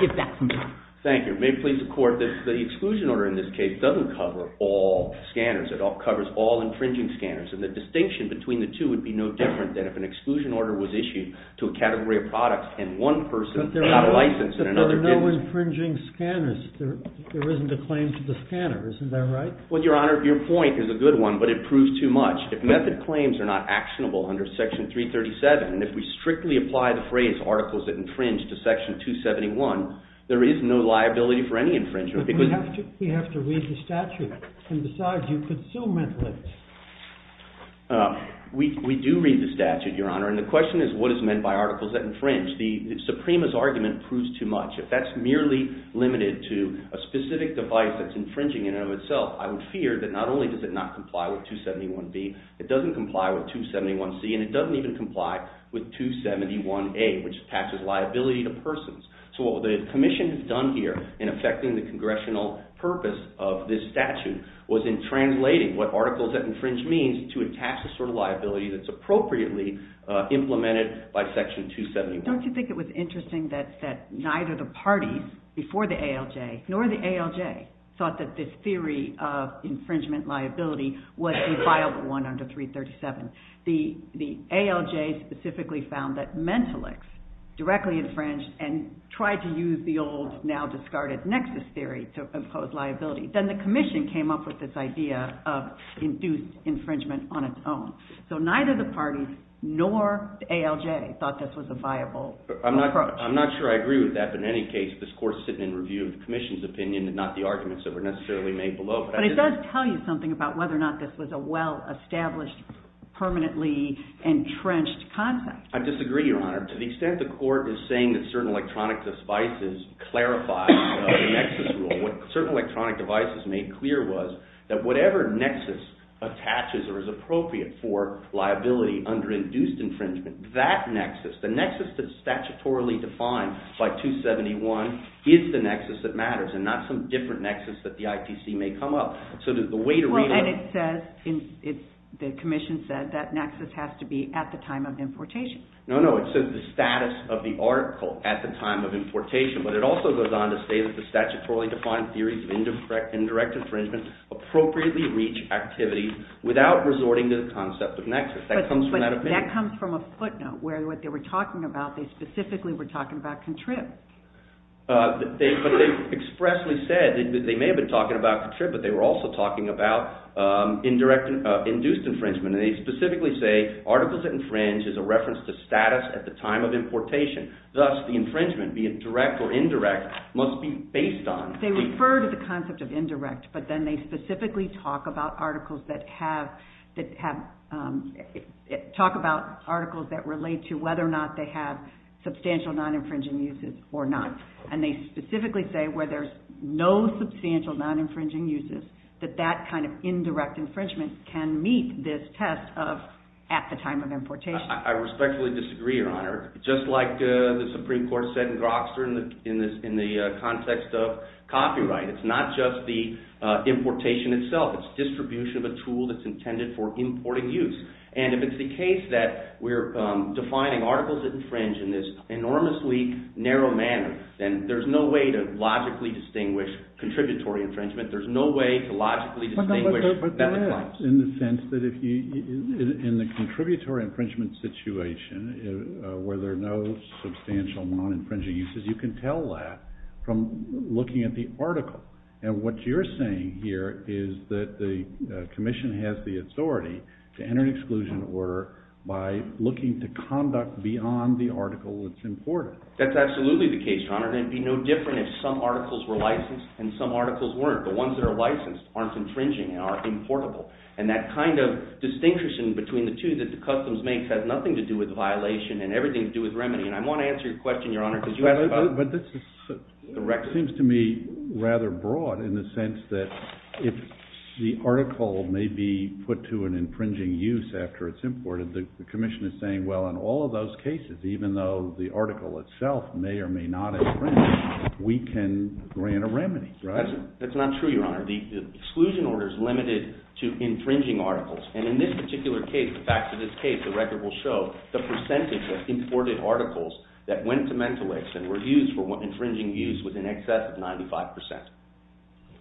give back some time. Thank you. It may please the Court that the exclusion order in this case doesn't cover all scanners. It covers all infringing scanners, and the distinction between the two would be no different than if an exclusion order was issued to a category of products and one person got a license and another didn't. But there are no infringing scanners. There isn't a claim to the scanner, isn't that right? Well, Your Honor, your point is a good one, but it proves too much. If method claims are not actionable under Section 337, and if we strictly apply the phrase, articles that infringe, to Section 271, there is no liability for any infringement. But we have to read the statute. And besides, you could still make limits. We do read the statute, Your Honor, and the question is what is meant by articles that infringe. The Suprema's argument proves too much. If that's merely limited to a specific device that's infringing in and of itself, I would fear that not only does it not comply with 271B, it doesn't comply with 271C, and it doesn't even comply with 271A, which attaches liability to persons. So what the Commission has done here in effecting the congressional purpose of this statute was in translating what articles that infringe means to attach a sort of liability that's appropriately implemented by Section 271. Don't you think it was interesting that neither the parties, before the ALJ, nor the ALJ, thought that this theory of infringement liability was a viable one under 337. The ALJ specifically found that mentalics directly infringed and tried to use the old, now discarded, nexus theory to impose liability. Then the Commission came up with this idea of induced infringement on its own. So neither the parties nor the ALJ thought this was a viable approach. I'm not sure I agree with that, but in any case, this Court's sitting in review of the Commission's opinion and not the arguments that were necessarily made below. But it does tell you something about whether or not this was a well-established, permanently entrenched concept. I disagree, Your Honor. To the extent the Court is saying that certain electronic devices clarify the nexus rule, I'm saying what certain electronic devices made clear was that whatever nexus attaches or is appropriate for liability under induced infringement, that nexus, the nexus that's statutorily defined by 271, is the nexus that matters and not some different nexus that the IPC may come up. So the way to read it... Well, and it says, the Commission said, that nexus has to be at the time of importation. No, no, it says the status of the article at the time of importation. But it also goes on to say that the statutorily defined theories of indirect infringement appropriately reach activities without resorting to the concept of nexus. That comes from that opinion. But that comes from a footnote, where what they were talking about, they specifically were talking about contrived. But they expressly said, they may have been talking about contrived, but they were also talking about induced infringement. And they specifically say, articles that infringe is a reference to status at the time of importation. Thus, the infringement, be it direct or indirect, must be based on... They refer to the concept of indirect, but then they specifically talk about articles that relate to whether or not they have substantial non-infringing uses or not. And they specifically say, where there's no substantial non-infringing uses, that that kind of indirect infringement can meet this test of at the time of importation. I respectfully disagree, Your Honor. Just like the Supreme Court said in Groxer, in the context of copyright, it's not just the importation itself. It's distribution of a tool that's intended for importing use. And if it's the case that we're defining articles that infringe in this enormously narrow manner, then there's no way to logically distinguish contributory infringement. There's no way to logically distinguish... In the sense that in the contributory infringement situation, where there are no substantial non-infringing uses, you can tell that from looking at the article. And what you're saying here is that the commission has the authority to enter an exclusion order by looking to conduct beyond the article that's imported. That's absolutely the case, Your Honor. It would be no different if some articles were licensed and some articles weren't. The ones that are licensed aren't infringing and aren't importable. And that kind of distinguishing between the two that the customs make has nothing to do with violation and everything to do with remedy. And I want to answer your question, Your Honor, because you have a... But this seems to me rather broad in the sense that if the article may be put to an infringing use after it's imported, the commission is saying, well, in all of those cases, even though the article itself may or may not infringe, we can grant a remedy, right? That's not true, Your Honor. The exclusion order is limited to infringing articles. And in this particular case, in fact, in this case, the record will show the percentage of imported articles that went to Mentolix and were used for infringing use was in excess of 95%.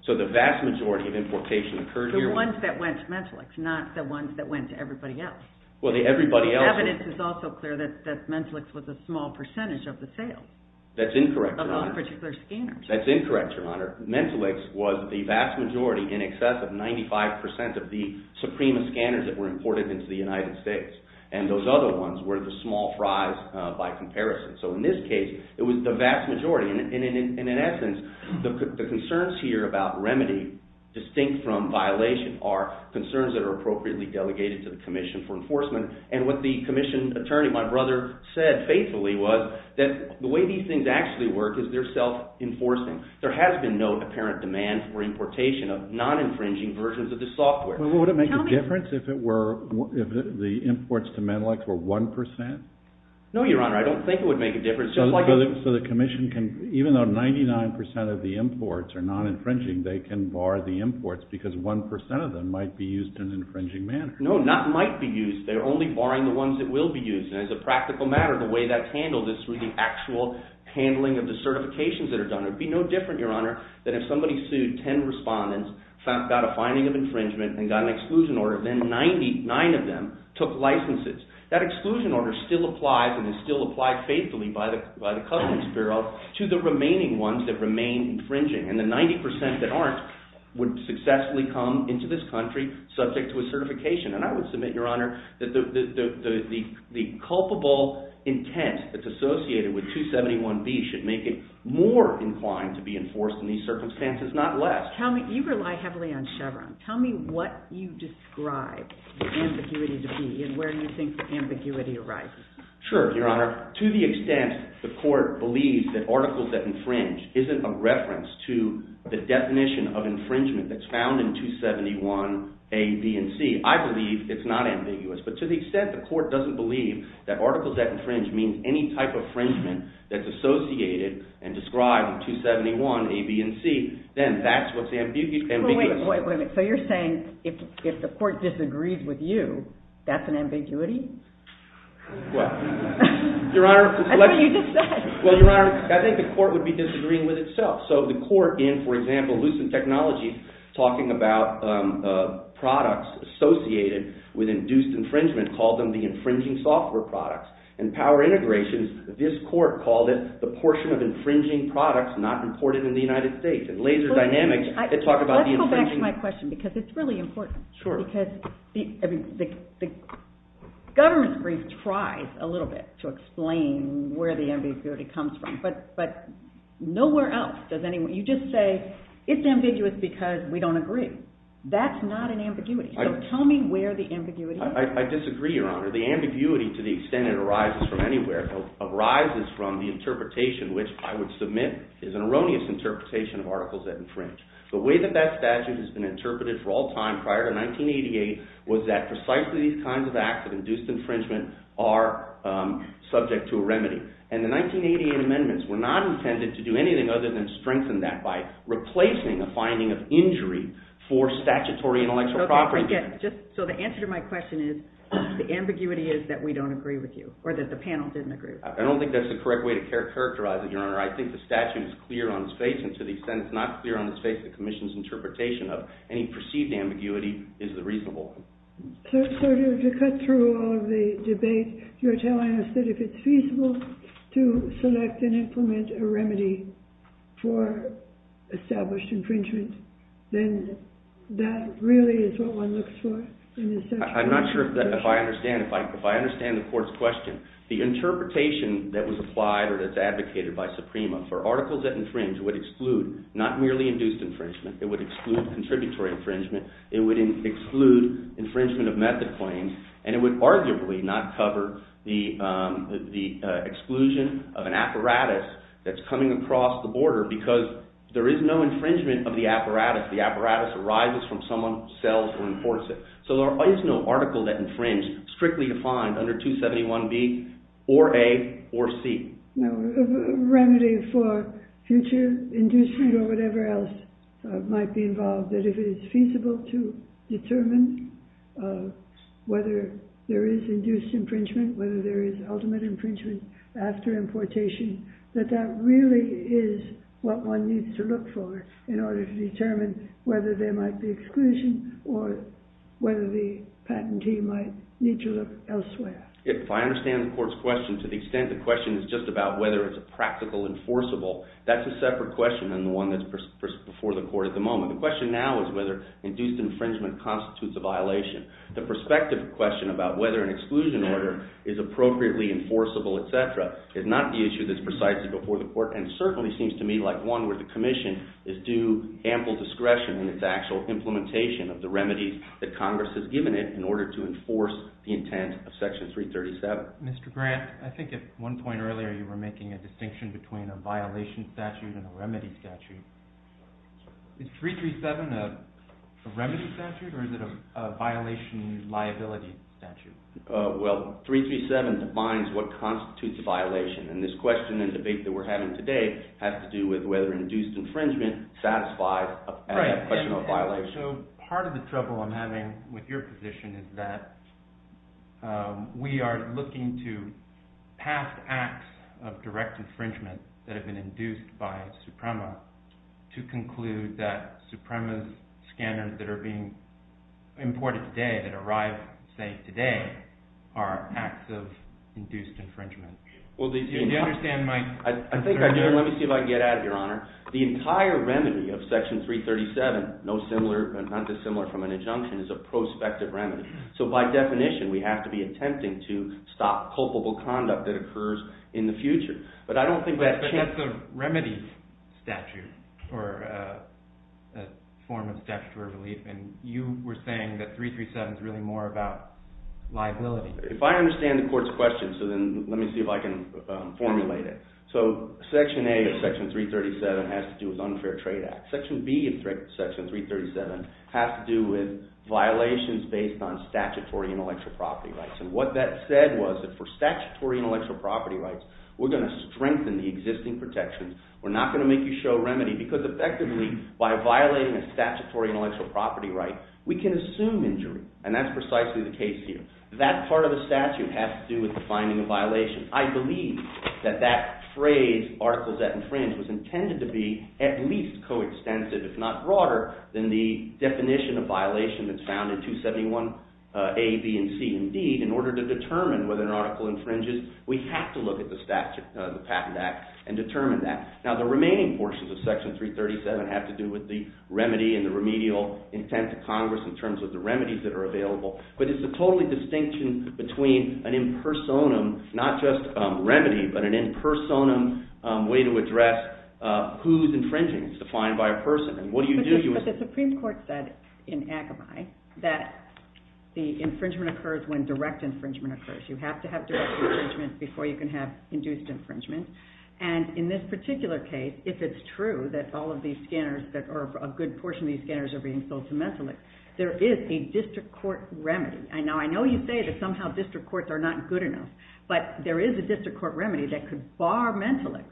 So the vast majority of importation occurred... The ones that went to Mentolix, not the ones that went to everybody else. Well, the everybody else... The evidence is also clear that Mentolix was a small percentage of the sales. That's incorrect, Your Honor. That's incorrect, Your Honor. Mentolix was the vast majority in excess of 95% of the supreme scanners that were imported into the United States. And those other ones were the small fries by comparison. So in this case, it was the vast majority. And in essence, the concerns here about remedy distinct from violation are concerns that are appropriately delegated to the Commission for Enforcement. And what the commission attorney, my brother, said faithfully was that the way these things actually work is they're self-enforcing. There has been no apparent demand for importation of non-infringing versions of the software. Would it make a difference if the imports to Mentolix were 1%? No, Your Honor, I don't think it would make a difference. So the commission can... Even though 99% of the imports are non-infringing, they can bar the imports because 1% of them might be used in an infringing manner. No, not might be used. They're only barring the ones that will be used. And as a practical matter, the way that's handled is through the actual handling of the certifications that are done. It would be no different, Your Honor, than if somebody sued 10 respondents, got a finding of infringement, and got an exclusion order. Then 99 of them took licenses. That exclusion order still applies and is still applied faithfully by the Covenants Bureau to the remaining ones that remain infringing. And the 90% that aren't would successfully come into this country subject to a certification. And I would submit, Your Honor, that the culpable intent that's associated with 271B should make it more inclined to be enforced in these circumstances, not less. You rely heavily on Chevron. Tell me what you describe the ambiguity to be and where you think the ambiguity arises. Sure, Your Honor. To the extent the court believes that articles that infringe isn't a reference to the definition of infringement that's found in 271A, B, and C, I believe it's not ambiguous. But to the extent the court doesn't believe that articles that infringe means any type of infringement that's associated and described in 271A, B, and C, then that's what's ambiguous. Wait a minute. So you're saying if the court disagrees with you, that's an ambiguity? Well, Your Honor, I think the court would be disagreeing with itself. So the court in, for example, Lucent Technologies, talking about products associated with induced infringement, called them the infringing software products. In Power Integrations, this court called it the portion of infringing products not imported in the United States. In Laser Dynamics, they talk about the infringement. Let's come back to my question because it's really important. Sure. Because the government brief tries a little bit to explain where the ambiguity comes from. But nowhere else does anyone – you just say it's ambiguous because we don't agree. That's not an ambiguity. So tell me where the ambiguity is. I disagree, Your Honor. The ambiguity, to the extent it arises from anywhere, arises from the interpretation, which I would submit is an erroneous interpretation of articles that infringe. The way that that statute has been interpreted for all time prior to 1988 was that precisely these kinds of acts of induced infringement are subject to a remedy. And the 1988 amendments were not intended to do anything other than strengthen that by replacing the finding of injury for statutory intellectual property. So the answer to my question is the ambiguity is that we don't agree with you or that the panel doesn't agree with you. I don't think that's the correct way to characterize it, Your Honor. I think the statute is clear on its face, and to the extent it's not clear on its face, the commission's interpretation of any perceived ambiguity is reasonable. So to cut through all of the debate, you're telling us that if it's feasible to select and implement a remedy for established infringement, then that really is what one looks for in the statute? I'm not sure if I understand the court's question. The interpretation that was applied or that's advocated by Suprema for articles that infringe would exclude not merely induced infringement. It would exclude contributing for infringement. It would exclude infringement of method claims, and it would arguably not cover the exclusion of an apparatus that's coming across the border because there is no infringement of the apparatus. The apparatus arises from someone who sells or imports it. So there is no article that infringed strictly defined under 271B or A or C. A remedy for future inducement or whatever else might be involved. That if it is feasible to determine whether there is induced infringement, whether there is ultimate infringement after importation, that that really is what one needs to look for in order to determine whether there might be exclusion or whether the patentee might need to look elsewhere. If I understand the court's question to the extent the question is just about whether it's practical and forcible, that's a separate question than the one that's before the court at the moment. The question now is whether induced infringement constitutes a violation. The perspective question about whether an exclusion order is appropriately enforceable, etc., is not the issue that's precisely before the court, and certainly seems to me like one where the commission is due ample discretion in its actual implementation of the remedies that Congress has given it in order to enforce the intent of Section 337. Mr. Grant, I think at one point earlier you were making a distinction between a violation statute and a remedy statute. Is 337 a remedy statute, or is it a violation liability statute? Well, 337 defines what constitutes a violation, and this question and debate that we're having today has to do with whether induced infringement satisfies a professional violation. So part of the trouble I'm having with your position is that we are looking to pass acts of direct infringement that have been induced by Suprema to conclude that Suprema's scanners that are being imported today, that arrive, say, today, are acts of induced infringement. Well, did you understand my... Let me see if I can get at it, Your Honor. The entire remedy of Section 337, not dissimilar from an injunction, is a prospective remedy. So by definition, we have to be attempting to stop culpable conduct that occurs in the future. But I don't think that... But that's a remedy statute, or a form of statutory relief, and you were saying that 337 is really more about liability. If I understand the Court's question, so then let me see if I can formulate it. So Section A of Section 337 has to do with unfair trade acts. Section B of Section 337 has to do with violations based on statutory intellectual property rights. And what that said was that for statutory intellectual property rights, we're going to strengthen the existing protections, we're not going to make you show remedy, because effectively, by violating a statutory intellectual property right, we can assume injury, and that's precisely the case here. That part of the statute has to do with defining the violation. I believe that that phrase, articles that infringe, was intended to be at least coextensive, if not broader, than the definition of violation that's found in 271A, B, and C. Indeed, in order to determine whether an article infringes, we have to look at the statute, the Patent Act, and determine that. Now, the remaining portions of Section 337 have to do with the remedy and the remedial intent of Congress in terms of the remedies that are available, but it's a totally distinction between an impersonum, not just remedy, but an impersonum way to address who's infringing. It's defined by a person. But the Supreme Court said in Akamai that the infringement occurs when direct infringement occurs. You have to have direct infringement before you can have induced infringement, and in this particular case, if it's true that all of these scanners, or a good portion of these scanners are being sold to mentalists, there is a district court remedy. Now, I know you say that somehow district courts are not good enough, but there is a district court remedy that could bar mentalists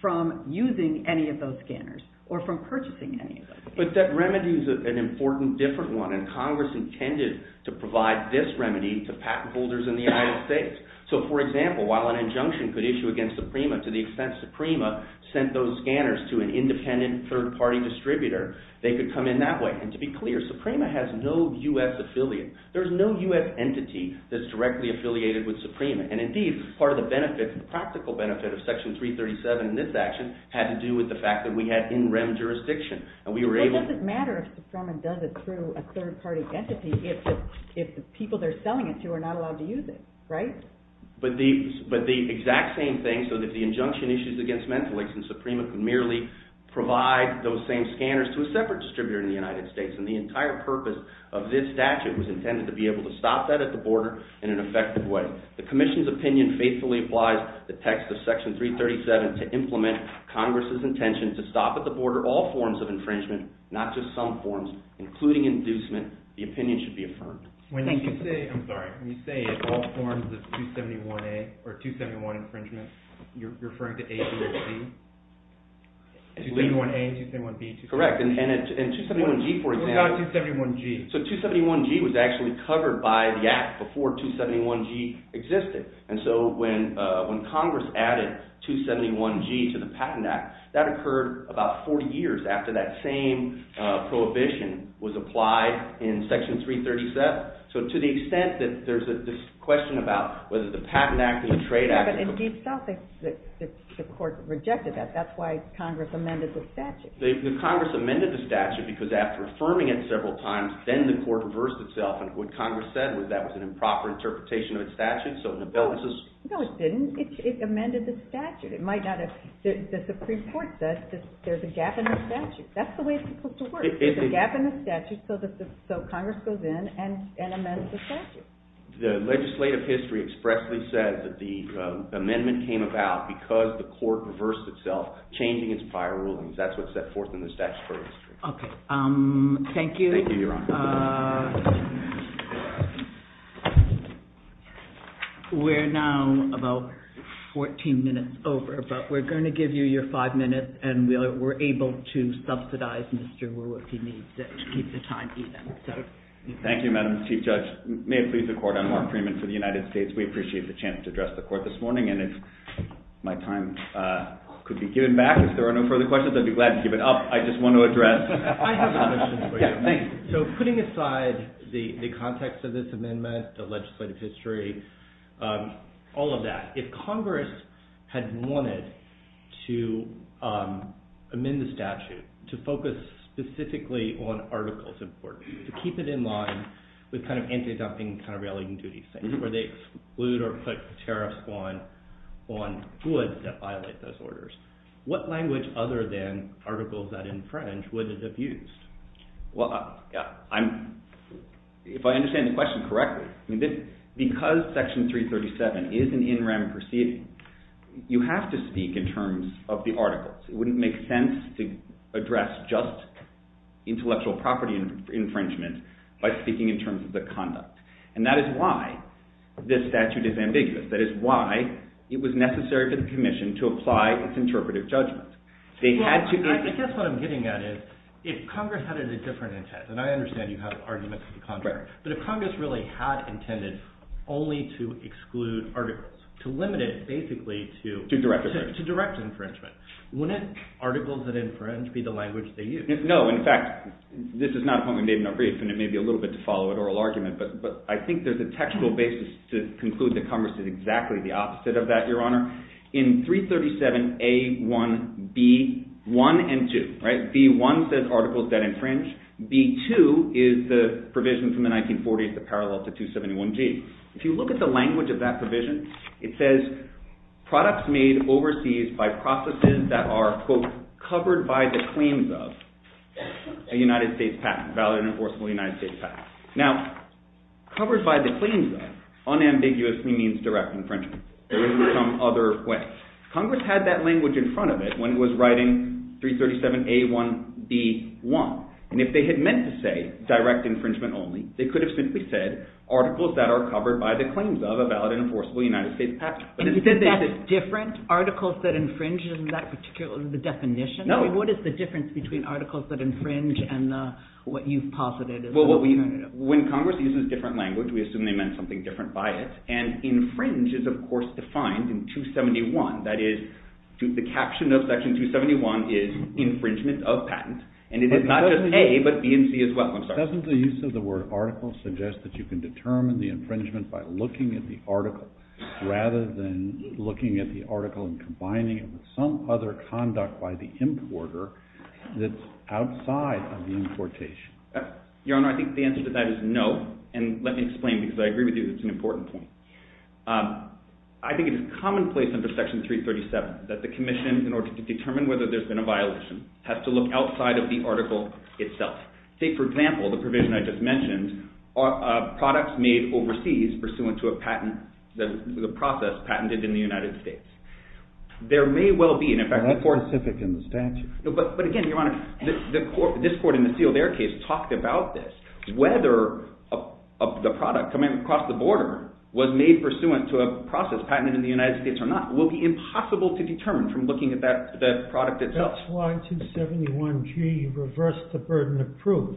from using any of those scanners or from purchasing any of those. But that remedy is an important different one, and Congress intended to provide this remedy to patent holders in the United States. So, for example, while an injunction could issue against Suprema to the extent Suprema sent those scanners to an independent third-party distributor, they could come in that way. And to be clear, Suprema has no U.S. affiliate. There's no U.S. entity that's directly affiliated with Suprema. And indeed, part of the benefit, the practical benefit of Section 337 in this action had to do with the fact that we had in-rem jurisdiction. And we were able to... It doesn't matter if someone does accrue a third-party entity if the people they're selling it to are not allowed to use it, right? But the exact same thing, so that the injunction issues against mentalists and Suprema can merely provide those same scanners to a separate distributor in the United States. And the entire purpose of this statute was intended to be able to stop that at the border in an effective way. The Commission's opinion faithfully applies the text of Section 337 to implement Congress's intention to stop at the border all forms of infringement, not just some forms, including inducement. The opinion should be affirmed. When you say, I'm sorry, when you say all forms of 271A or 271 infringement, you're referring to A to their G? 271A and 271B, too. Correct. And 271G, for example... What about 271G? So 271G was actually covered by the Act before 271G existed. And so when Congress added 271G to the Patent Act, that occurred about four years after that same prohibition was applied in Section 337. So to the extent that there's this question about whether the Patent Act and the Trade Act... But in itself, the court rejected that. That's why Congress amended the statute. The Congress amended the statute because after affirming it several times, then the court reversed itself. And what Congress said was that was an improper interpretation of the statute. No, it didn't. It amended the statute. It might not have. The Supreme Court says there's a gap in the statute. That's the way it's supposed to work. There's a gap in the statute, so Congress goes in and amends the statute. The legislative history expressly said that the amendment came about because the court reversed itself, changing its prior rulings. That's what's set forth in the statute. Okay. Thank you. We're now about 14 minutes over, but we're going to give you your five minutes and we're able to subsidize Mr. Wu if he needs it to keep the time even. Thank you, Madam Chief Judge. May it please the court, I'm Mark Freeman for the United States. We appreciate the chance to address the court this morning, and if my time could be given back, if there are no further questions, I'd be glad to give it up. I just want to address. I have a question for you. So putting aside the context of this amendment, the legislative history, all of that, if Congress had wanted to amend the statute to focus specifically on articles of court, to keep it in line with kind of anti-adoption kind of religion duty things where they exclude or put a tariff on goods that violate those orders, what language other than articles that infringe would it have used? Well, if I understand the question correctly, because Section 337 is an in rem proceeding, you have to speak in terms of the articles. It wouldn't make sense to address just intellectual property infringement by speaking in terms of the conduct. And that is why this statute is ambiguous. That is why it was necessary for the commission to apply its interpretive judgment. I guess what I'm getting at is if Congress had a different intent, and I understand you have arguments for the contrary, but if Congress really had intended only to exclude articles, to limit it basically to direct infringement, wouldn't articles that infringe be the language they used? No, in fact, this is not what we made in our brief, and it may be a little bit to follow an oral argument, but I think there's a textual basis to conclude that Congress is exactly the opposite of that, Your Honor. In 337A1B1 and 2, B1 says articles that infringe. B2 is the provision from the 1940s that parallels the 271G. If you look at the language of that provision, it says products made overseas by processes that are, quote, covered by the claims of a United States patent, a valid and enforceable United States patent. Now, covered by the claims of, unambiguously means direct infringement. It would be from other wests. Congress had that language in front of it when it was writing 337A1B1, and if they had meant to say direct infringement only, they could have simply said articles that are covered by the claims of a valid and enforceable United States patent. Is that different, articles that infringe in that particular definition? No. What is the difference between articles that infringe and what you've posited? Well, when Congress uses different language, we assume they meant something different by it, and infringe is, of course, defined in 271. That is, the caption of Section 271 is infringement of patents, and it is not just A, but B and C as well. Doesn't the use of the word article suggest that you can determine the infringement by looking at the article, rather than looking at the article and combining it with some other conduct by the importer that's outside of the importation? Your Honor, I think the answer to that is no, and let me explain because I agree with you that it's an important point. I think it is commonplace under Section 337 that the Commission, in order to determine whether there's been a violation, has to look outside of the article itself. Take, for example, the provision I just mentioned, products made overseas pursuant to a patent, the process patented in the United States. That's specific in the statute. But again, Your Honor, this court in the Sealed Air case talked about this. Whether the product coming across the border was made pursuant to a process patented in the United States or not will be impossible to determine from looking at that product itself. That's why 271G reversed the burden of proof,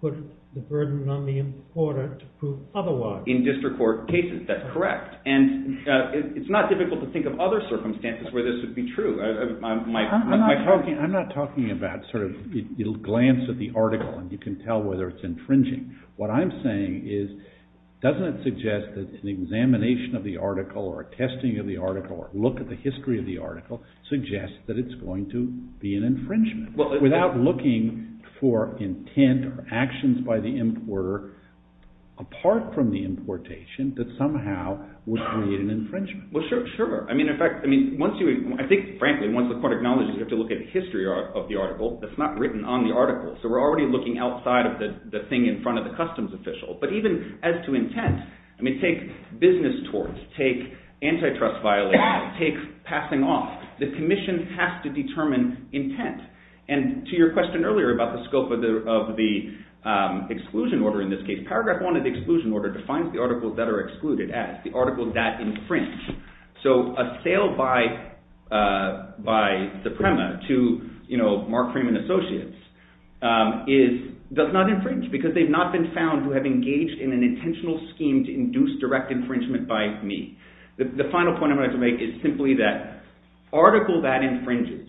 put the burden on the importer to prove otherwise. In district court cases, that's correct. It's not difficult to think of other circumstances where this would be true. I'm not talking about the glance of the article and you can tell whether it's infringing. What I'm saying is, doesn't it suggest that an examination of the article or a testing of the article or a look at the history of the article suggests that it's going to be an infringement? Without looking for intent or actions by the importer apart from the importation, that somehow would create an infringement. Well, sure. I think, frankly, once the court acknowledges you have to look at the history of the article, that's not written on the article. So we're already looking outside of the thing in front of the customs official. But even as to intent, take business tort, take antitrust violations, take passing off. The commission has to determine intent. And to your question earlier about the scope of the exclusion order in this case, paragraph one of the exclusion order defines the articles that are excluded as the article that infringed. So a sale by the PREMA to Mark Freeman Associates does not infringe because they've not been found who have engaged in an intentional scheme to induce direct infringement by me. The final point I'd like to make is simply that article that infringes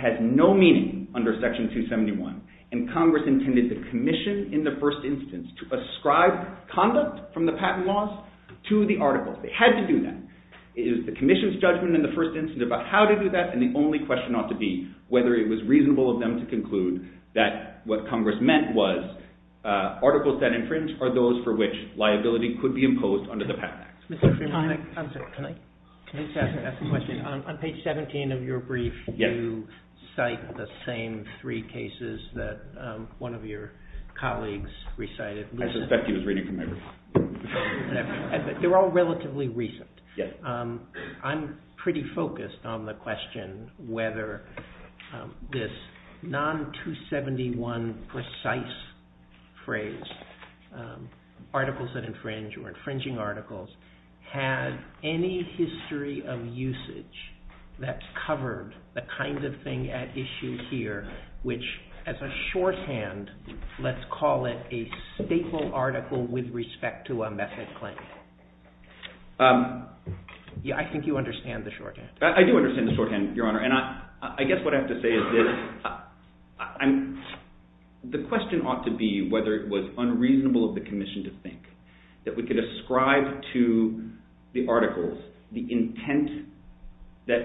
has no meaning under section 271. And Congress intended the commission in the first instance to ascribe conduct from the patent laws to the article. It had to do that. It was the commission's judgment in the first instance about how to do that and the only question ought to be whether it was reasonable of them to conclude that what Congress meant was articles that infringe are those for which liability could be imposed under the patent. Mr. Freeman, I have a question. On page 17 of your brief, you cite the same three cases that one of your colleagues recited. That's a speculative reading from me. They're all relatively recent. I'm pretty focused on the question whether this non-271 precise phrase, articles that infringe or infringing articles, had any history of usage that covered the kind of thing at issue here which as a shorthand, let's call it a staple article with respect to a method claim. I think you understand the shorthand. I do understand the shorthand, Your Honor. I guess what I have to say is the question ought to be whether it was unreasonable of the commission to think that we could ascribe to the articles the intent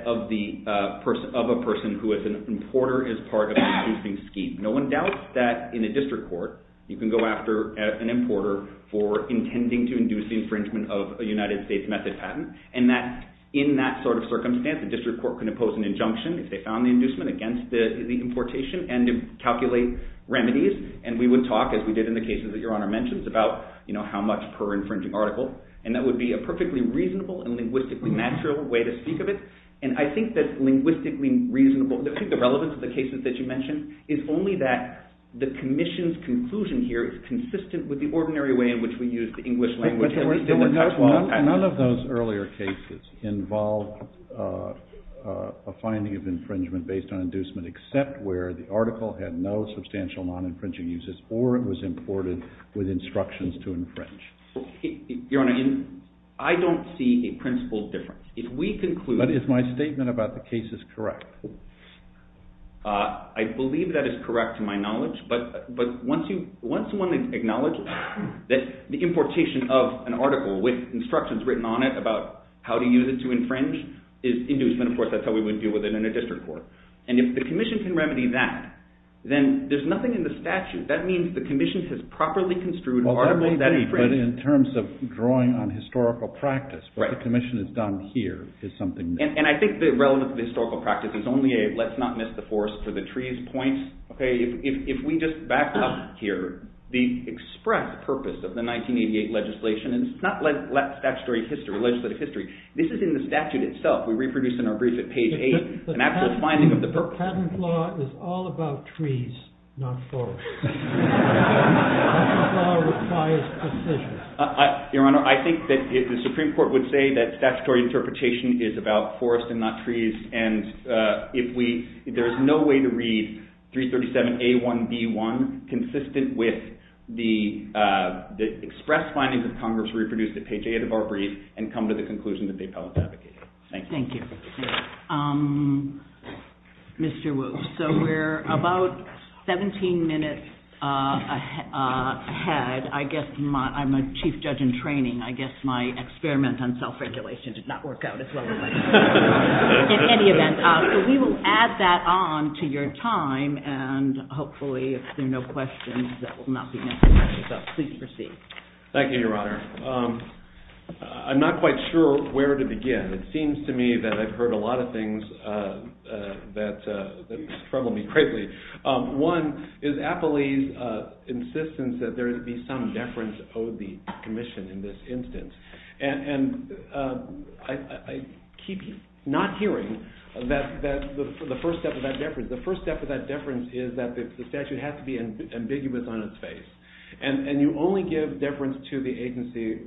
of a person who as an importer is part of an infringing scheme. No one doubts that in a district court you can go after an importer for intending to induce infringement of a United States method patent and that in that sort of circumstance, the district court can impose an injunction if they found the inducement against the importation and calculate remedies. We would talk, as we did in the cases that Your Honor mentioned, about how much per infringing article. That would be a perfectly reasonable and linguistically natural way to speak of it. And I think that linguistically reasonable, I think the relevance of the cases that you mentioned is only that the commission's conclusion here is consistent with the ordinary way in which we use the English language. None of those earlier cases involved a finding of infringement based on inducement except where the article had no substantial non-infringing uses or it was imported with instructions to infringe. Your Honor, I don't see a principle difference. If we conclude... But is my statement about the cases correct? I believe that is correct to my knowledge, but once one acknowledges that the importation of an article with instructions written on it about how to use it to infringe is inducement, of course that's how we would deal with it in a district court. And if the commission can remedy that, then there's nothing in the statute. That means the commission has properly construed an article that infringes. But in terms of drawing on historical practice, what the commission has done here is something... And I think the relevance of the historical practice is only a let's not miss the forest for the trees point. If we just back up here, the express purpose of the 1988 legislation, and it's not statutory history, legislative history. This is in the statute itself. We reproduced in our brief at page 8. The patent law is all about trees, not forest. The patent law requires precision. Your Honor, I think that the Supreme Court would say that statutory interpretation is about forest and not trees. And there's no way to read 337A1B1 consistent with the express findings of Congress reproduced at page 8 of our brief and come to the conclusion that the appellate's advocating. Thank you. Thank you. Mr. Wu. So we're about 17 minutes ahead. I guess I'm a chief judge in training. I guess my experiment on self-regulation did not work out. In any event, we will add that on to your time, and hopefully if there are no questions, that will not be necessary. So please proceed. Thank you, Your Honor. I'm not quite sure where to begin. It seems to me that I've heard a lot of things that trouble me greatly. One is appellee's insistence that there be some deference owed the commission in this instance. And I keep not hearing the first step of that deference. The first step of that deference is that the statute has to be ambiguous on its face. And you only give deference to the agency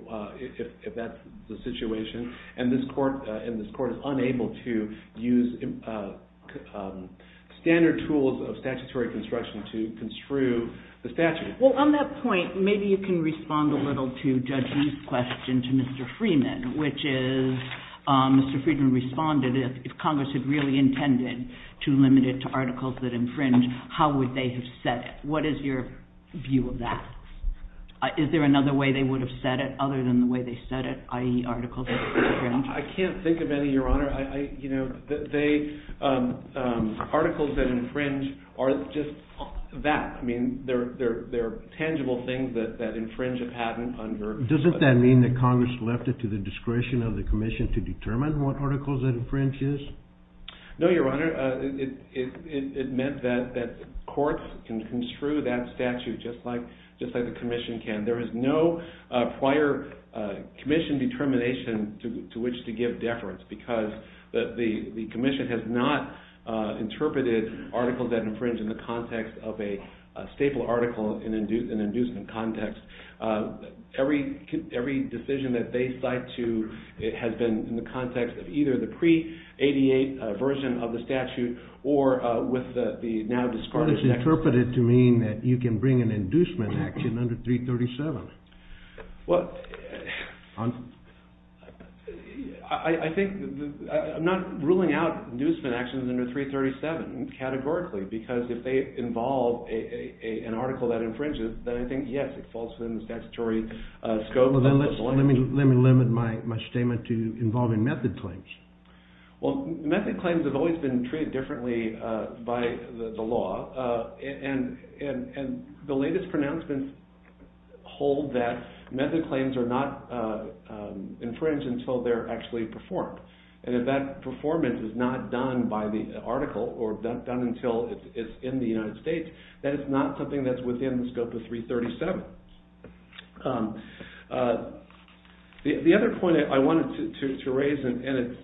if that's the situation. And this court is unable to use standard tools of statutory construction to construe the statute. Well, on that point, maybe you can respond a little to Judge Lee's question to Mr. Freeman, which is, Mr. Freeman responded, if Congress had really intended to limit it to articles that infringe, how would they have set it? What is your view of that? Is there another way they would have set it, other than the way they set it, i.e. articles that infringe? I can't think of any, Your Honor. Articles that infringe are just that. I mean, they're tangible things that infringe a patent under the statute. Doesn't that mean that Congress left it to the discretion of the commission to determine what articles it infringes? No, Your Honor. It meant that the courts can construe that statute just like the commission can. There is no prior commission determination to which to give deference, because the commission has not interpreted articles that infringe in the context of a staple article in an inducement context. Every decision that they cite to has been in the context of either the pre-'88 version of the statute or with the now discarded statute. Well, it's interpreted to mean that you can bring an inducement action under 337. I'm not ruling out inducement actions under 337 categorically, because if they involve an article that infringes, then I think, yes, it falls within statutory scope. Let me limit my statement to involving method claims. Well, method claims have always been treated differently by the law. And the latest pronouncements hold that method claims are not infringed until they're actually performed. And if that performance is not done by the article or done until it's in the United States, then it's not something that's within the scope of 337. The other point I wanted to raise, and it's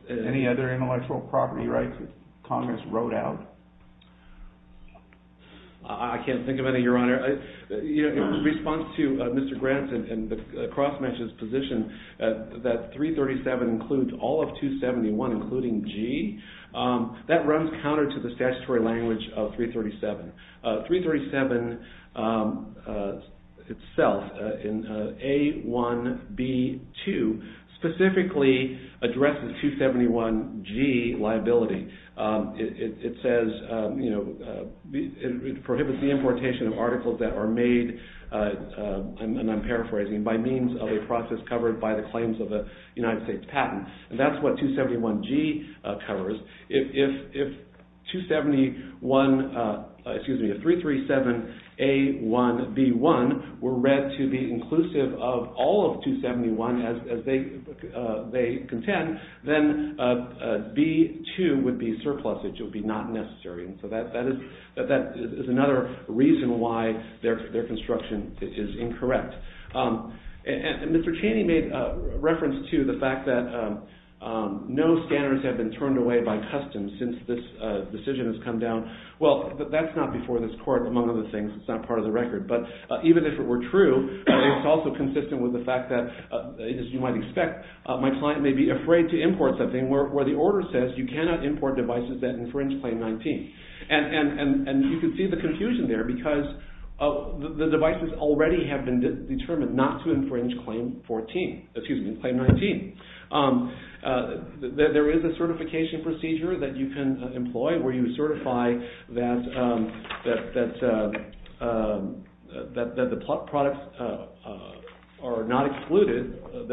I can't think of any, Your Honor. In response to Mr. Granson and the cross-measures position that 337 includes all of 271, including G, that runs counter to the statutory language of 337. 337 itself, in A1B2, specifically addresses 271G liability. It prohibits the importation of articles that are made, and I'm paraphrasing, by means of a process covered by the claims of a United States patent. And that's what 271G covers. If 337A1B1 were read to be inclusive of all of 271 as they contend, then B2 would be surplus, which would be not necessary. So that is another reason why their construction is incorrect. And Mr. Chaney made reference to the fact that no standards have been turned away by customs since this decision has come down. Well, that's not before this court, among other things. It's not part of the record. But even if it were true, it's also inconsistent with the fact that, as you might expect, my client may be afraid to import something where the order says you cannot import devices that infringe Claim 19. And you can see the confusion there, because the devices already have been determined not to infringe Claim 19. There is a certification procedure that you can employ where you certify that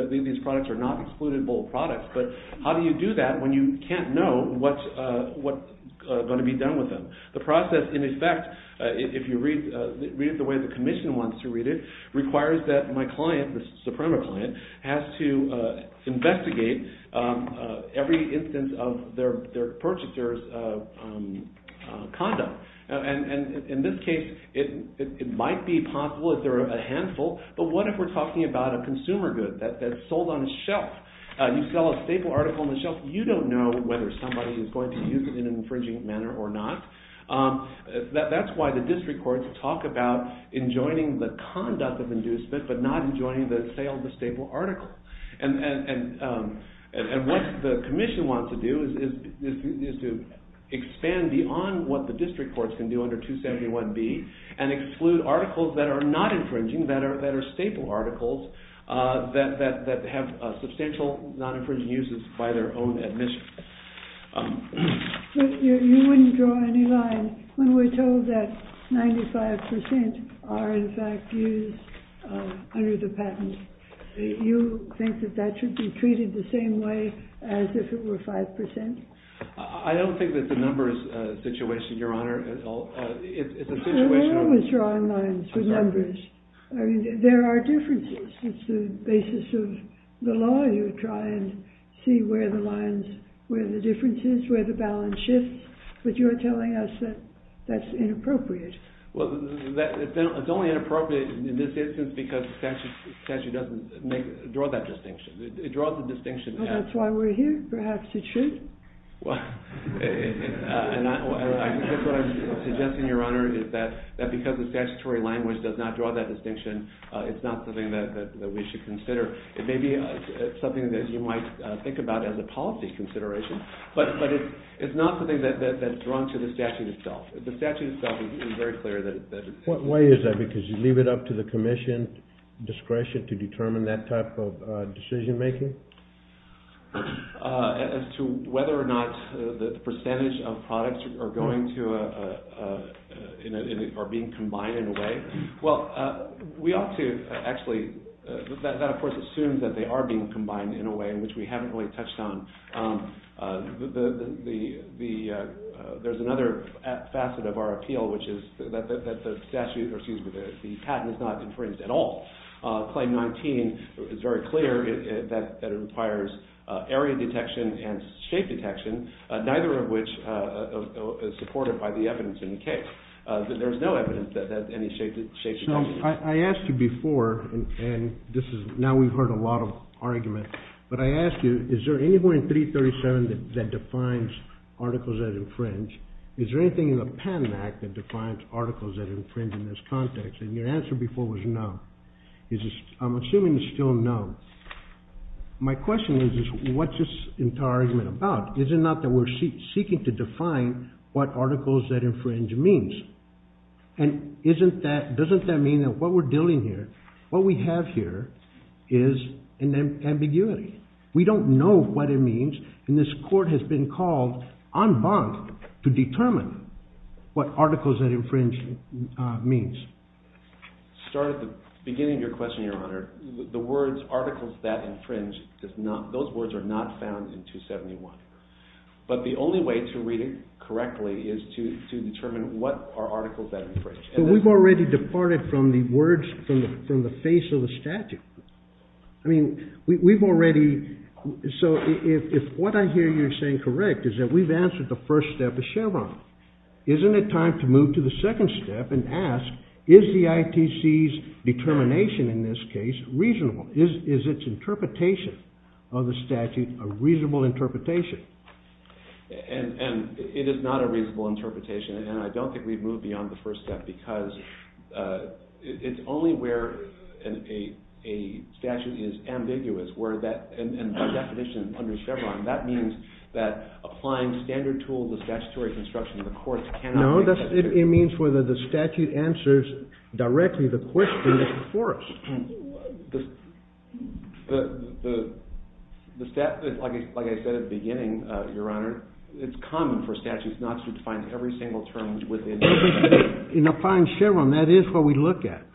these products are not excludable products. But how do you do that when you can't know what's going to be done with them? The process, in effect, if you read it the way the commission wants to read it, requires that my client, the Suprema client, has to investigate every instance of their purchaser's conduct. And in this case, it might be possible if there are a handful. But what if we're talking about a consumer good that's sold on a shelf? You sell a staple article on a shelf, you don't know whether somebody is going to use it in an infringing manner or not. That's why the district courts talk about enjoining the conduct of inducement, but not enjoining the sale of the staple article. And what the commission wants to do is to expand beyond what the district courts can do under 271B, and exclude articles that are not infringing, that are staple articles, that have substantial non-infringing uses by their own admission. You wouldn't draw any line when we're saying that 95% are, in fact, used under the patent. You think that that should be treated the same way as if it were 5%? I don't think that the numbers situation, Your Honor, at all is a situation of- We're always drawing lines with numbers. I mean, there are differences. It's the basis of the law. You try and see where the lines, where the differences, where the balance shifts. But you're telling us that that's inappropriate. Well, it's only inappropriate in this instance because statute doesn't draw that distinction. It draws the distinction. Well, that's why we're here. Perhaps it should. Well, I guess what I'm suggesting, Your Honor, is that because the statutory language does not draw that distinction, it's not something that we should consider. It may be something that you might think about as a policy consideration. But it's not something that's drawn to the statute itself. The statute itself is very clear that- What way is that? Because you leave it up to the commission's discretion to determine that type of decision making? As to whether or not the percentage of products are going to a- are being combined in a way? Well, we ought to actually- that, of course, assumes that they are being combined in a way in which we haven't really touched on. The- there's another facet of our appeal, which is that the statute- or excuse me, the patent is not infringed at all. Claim 19 is very clear that it requires area detection and shape detection, neither of which is supported by the evidence in the case. There's no evidence that any shape detection- I asked you before, and this is- now we've heard a lot of arguments, but I asked you, is there anyone in 337 that defines articles that infringe? Is there anything in the Patent Act that defines articles that infringe in this context? And your answer before was no. I'm assuming it's still no. My question is, what's this entire argument about? Is it not that we're seeking to define what articles that infringe means? And isn't that- doesn't that mean that what we're dealing here- what we have here is an ambiguity? We don't know what it means, and this court has been called en banc to determine what articles that infringe means. Start at the beginning of your question, Your Honor. The words, articles that infringe, does not- those words are not found in 271. But the only way to read it correctly is to determine what are articles that infringe. But we've already departed from the words- from the face of the statute. I mean, we've already- so if what I hear you saying correct is that we've answered the first step of Chevron, isn't it time to move to the second step and ask, is the ITC's determination in this case reasonable? Is its interpretation of the statute a reasonable interpretation? And it is not a reasonable interpretation, and I don't think we've moved beyond the first step because it's only where a statute is ambiguous and by definition under Chevron. That means that applying standard tools of statutory construction to the courts cannot- No, it means whether the statute answers directly the question that's before us. The statute, like I said at the beginning, Your Honor, it's common for statutes not to define every single term within- In applying Chevron, that is what we look at.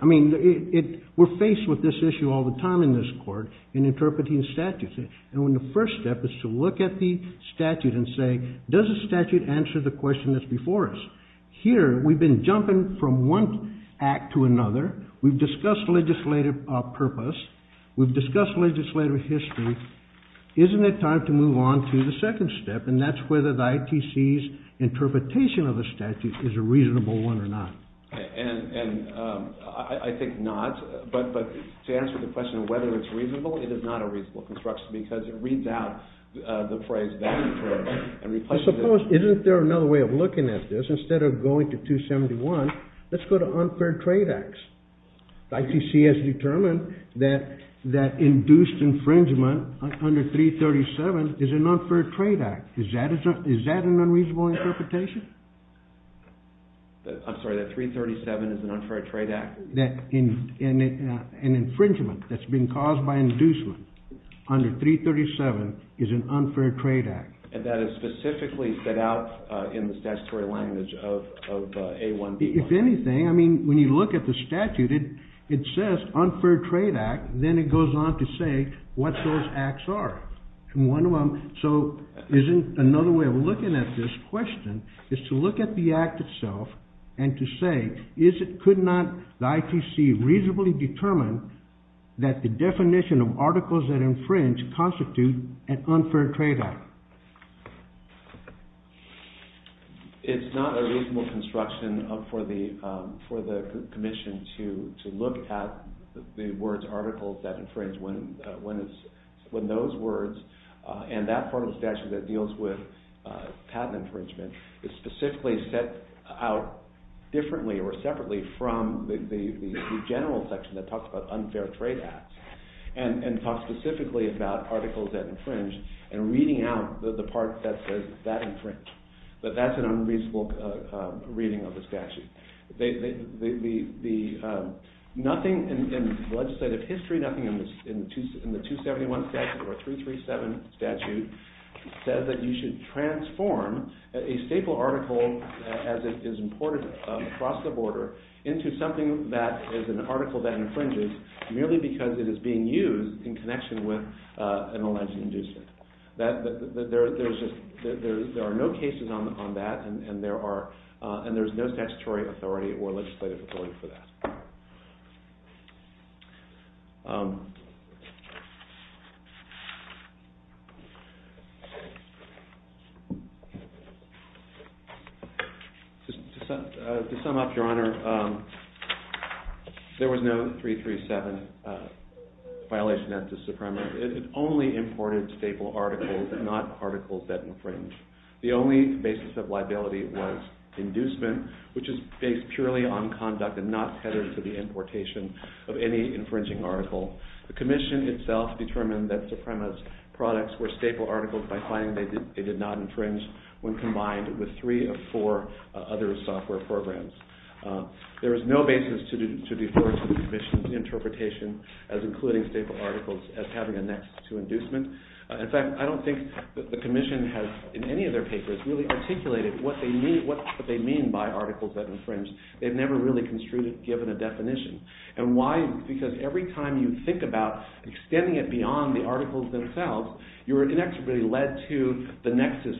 I mean, we're faced with this issue all the time in this court in interpreting statutes. And when the first step is to look at the statute and say, does the statute answer the question that's before us? Here, we've been jumping from one act to another. We've discussed legislative purpose. We've discussed legislative history. Isn't it time to move on to the second step, and that's whether the ITC's interpretation of the statute is a reasonable one or not? And I think not. But to answer the question of whether it's reasonable, it is not a reasonable construction because it reads out the phrase value for a replacement. I suppose, isn't there another way of looking at this? Instead of going to 271, let's go to unfair trade acts. ITC has determined that induced infringement under 337 is an unfair trade act. Is that an unreasonable interpretation? I'm sorry, that 337 is an unfair trade act? That an infringement that's been caused by inducement under 337 is an unfair trade act. That is specifically set out in the statutory language of A1B. If anything, I mean, when you look at the statute, it says unfair trade act. Then it goes on to say what those acts are. So isn't another way of looking at this question is to look at the act itself and to say, could not the ITC reasonably determine that the definition of articles that infringe constitute an unfair trade act? It's not a reasonable construction for the commission to look at the words articles that infringe when those words and that part of the statute that deals with patent infringement is specifically set out differently or separately from the general section that talks about unfair trade acts and talks specifically about articles that infringe and reading out the part that says that infringes. But that's an unreasonable reading of the statute. The nothing in legislative history, nothing in the 271 statute or 337 statute says that you should transform a staple article as it is imported across the border into something that is an article that infringes merely because it is being used in connection with an alleged inducement. There are no cases on that, and there's no statutory authority or legislative authority for that. To sum up, Your Honor, there was no 337 violation of the Supremacy Act. It only imported staple articles and not articles that infringe. The only basis of liability was inducement, which is based purely on conduct and not headed to the importation of any infringing article. The commission itself determined that Suprema's products were staple articles by finding they did not infringe when combined with three or four other software programs. There is no basis to the authority of the commission's interpretation as including staple articles as having a nexus to inducement. In fact, I don't think that the commission has, in any of their cases, really articulated what they mean by articles that infringe. They've never really construed it, given a definition. And why? Because every time you think about extending it beyond the articles themselves, you're inextricably led to the nexus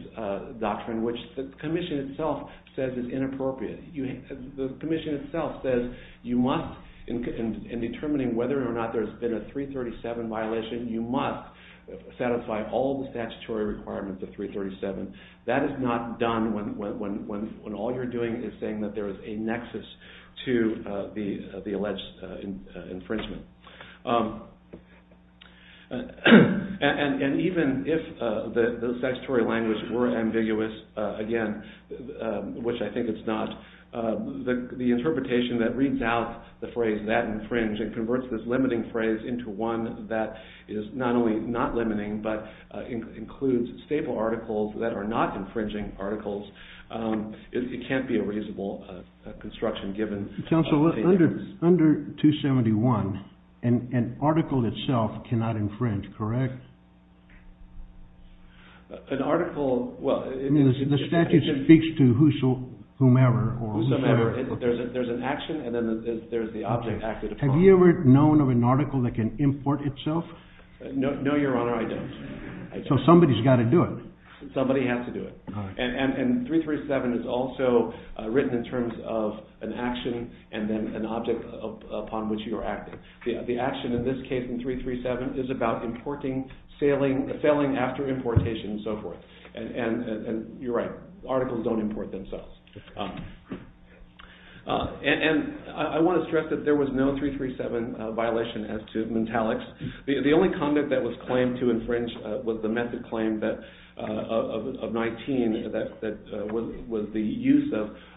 doctrine, which the commission itself says is inappropriate. The commission itself says you must, in determining whether or not there's been a 337 violation, you must satisfy all the statutory requirements of 337. That is not done when all you're doing is saying that there is a nexus to the alleged infringement. And even if the statutory languages were ambiguous, again, which I think it's not, the interpretation that reads out the phrase, that infringed, and converts this limiting phrase into one that is not only not limiting, but includes staple articles that are not infringing articles, it can't be a reasonable construction, given all the things. Council, under 271, an article itself cannot infringe, correct? An article, well, it is. The statute speaks to whoso, whomever, or whomever. There's an action, and then there's the object. Have you ever known of an article that can import itself? No, your honor, I don't. So somebody's got to do it. Somebody has to do it. And 337 is also written in terms of an action, and then an object upon which you are acting. The action, in this case, in 337, is about importing, sailing, sailing after importation, and so forth. And you're right. Articles don't import themselves. And I want to stress that there was no 337 violation as to mentalics. The only conduct that was claimed to infringe was the method claim of 19 that was the use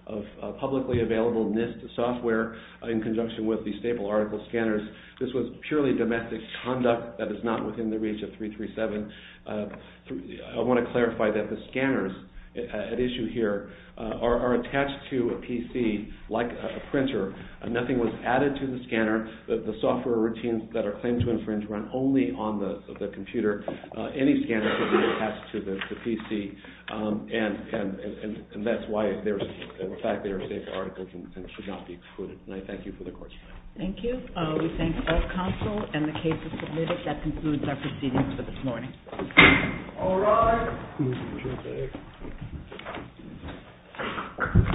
of publicly available NIST software in conjunction with the staple article scanners. This was purely domestic conduct that is not within the reach of 337. I want to clarify that the scanners at issue here are attached to a PC like a printer. Nothing was added to the scanner. The software routines that are claimed to infringe run only on the computer. Any scanner could be attached to the PC, and that's why, in fact, there are staple articles and should not be included. And I thank you for the question. Thank you. We thank the court counsel and the case is submitted. That concludes our proceedings for this morning. All rise. Thank you.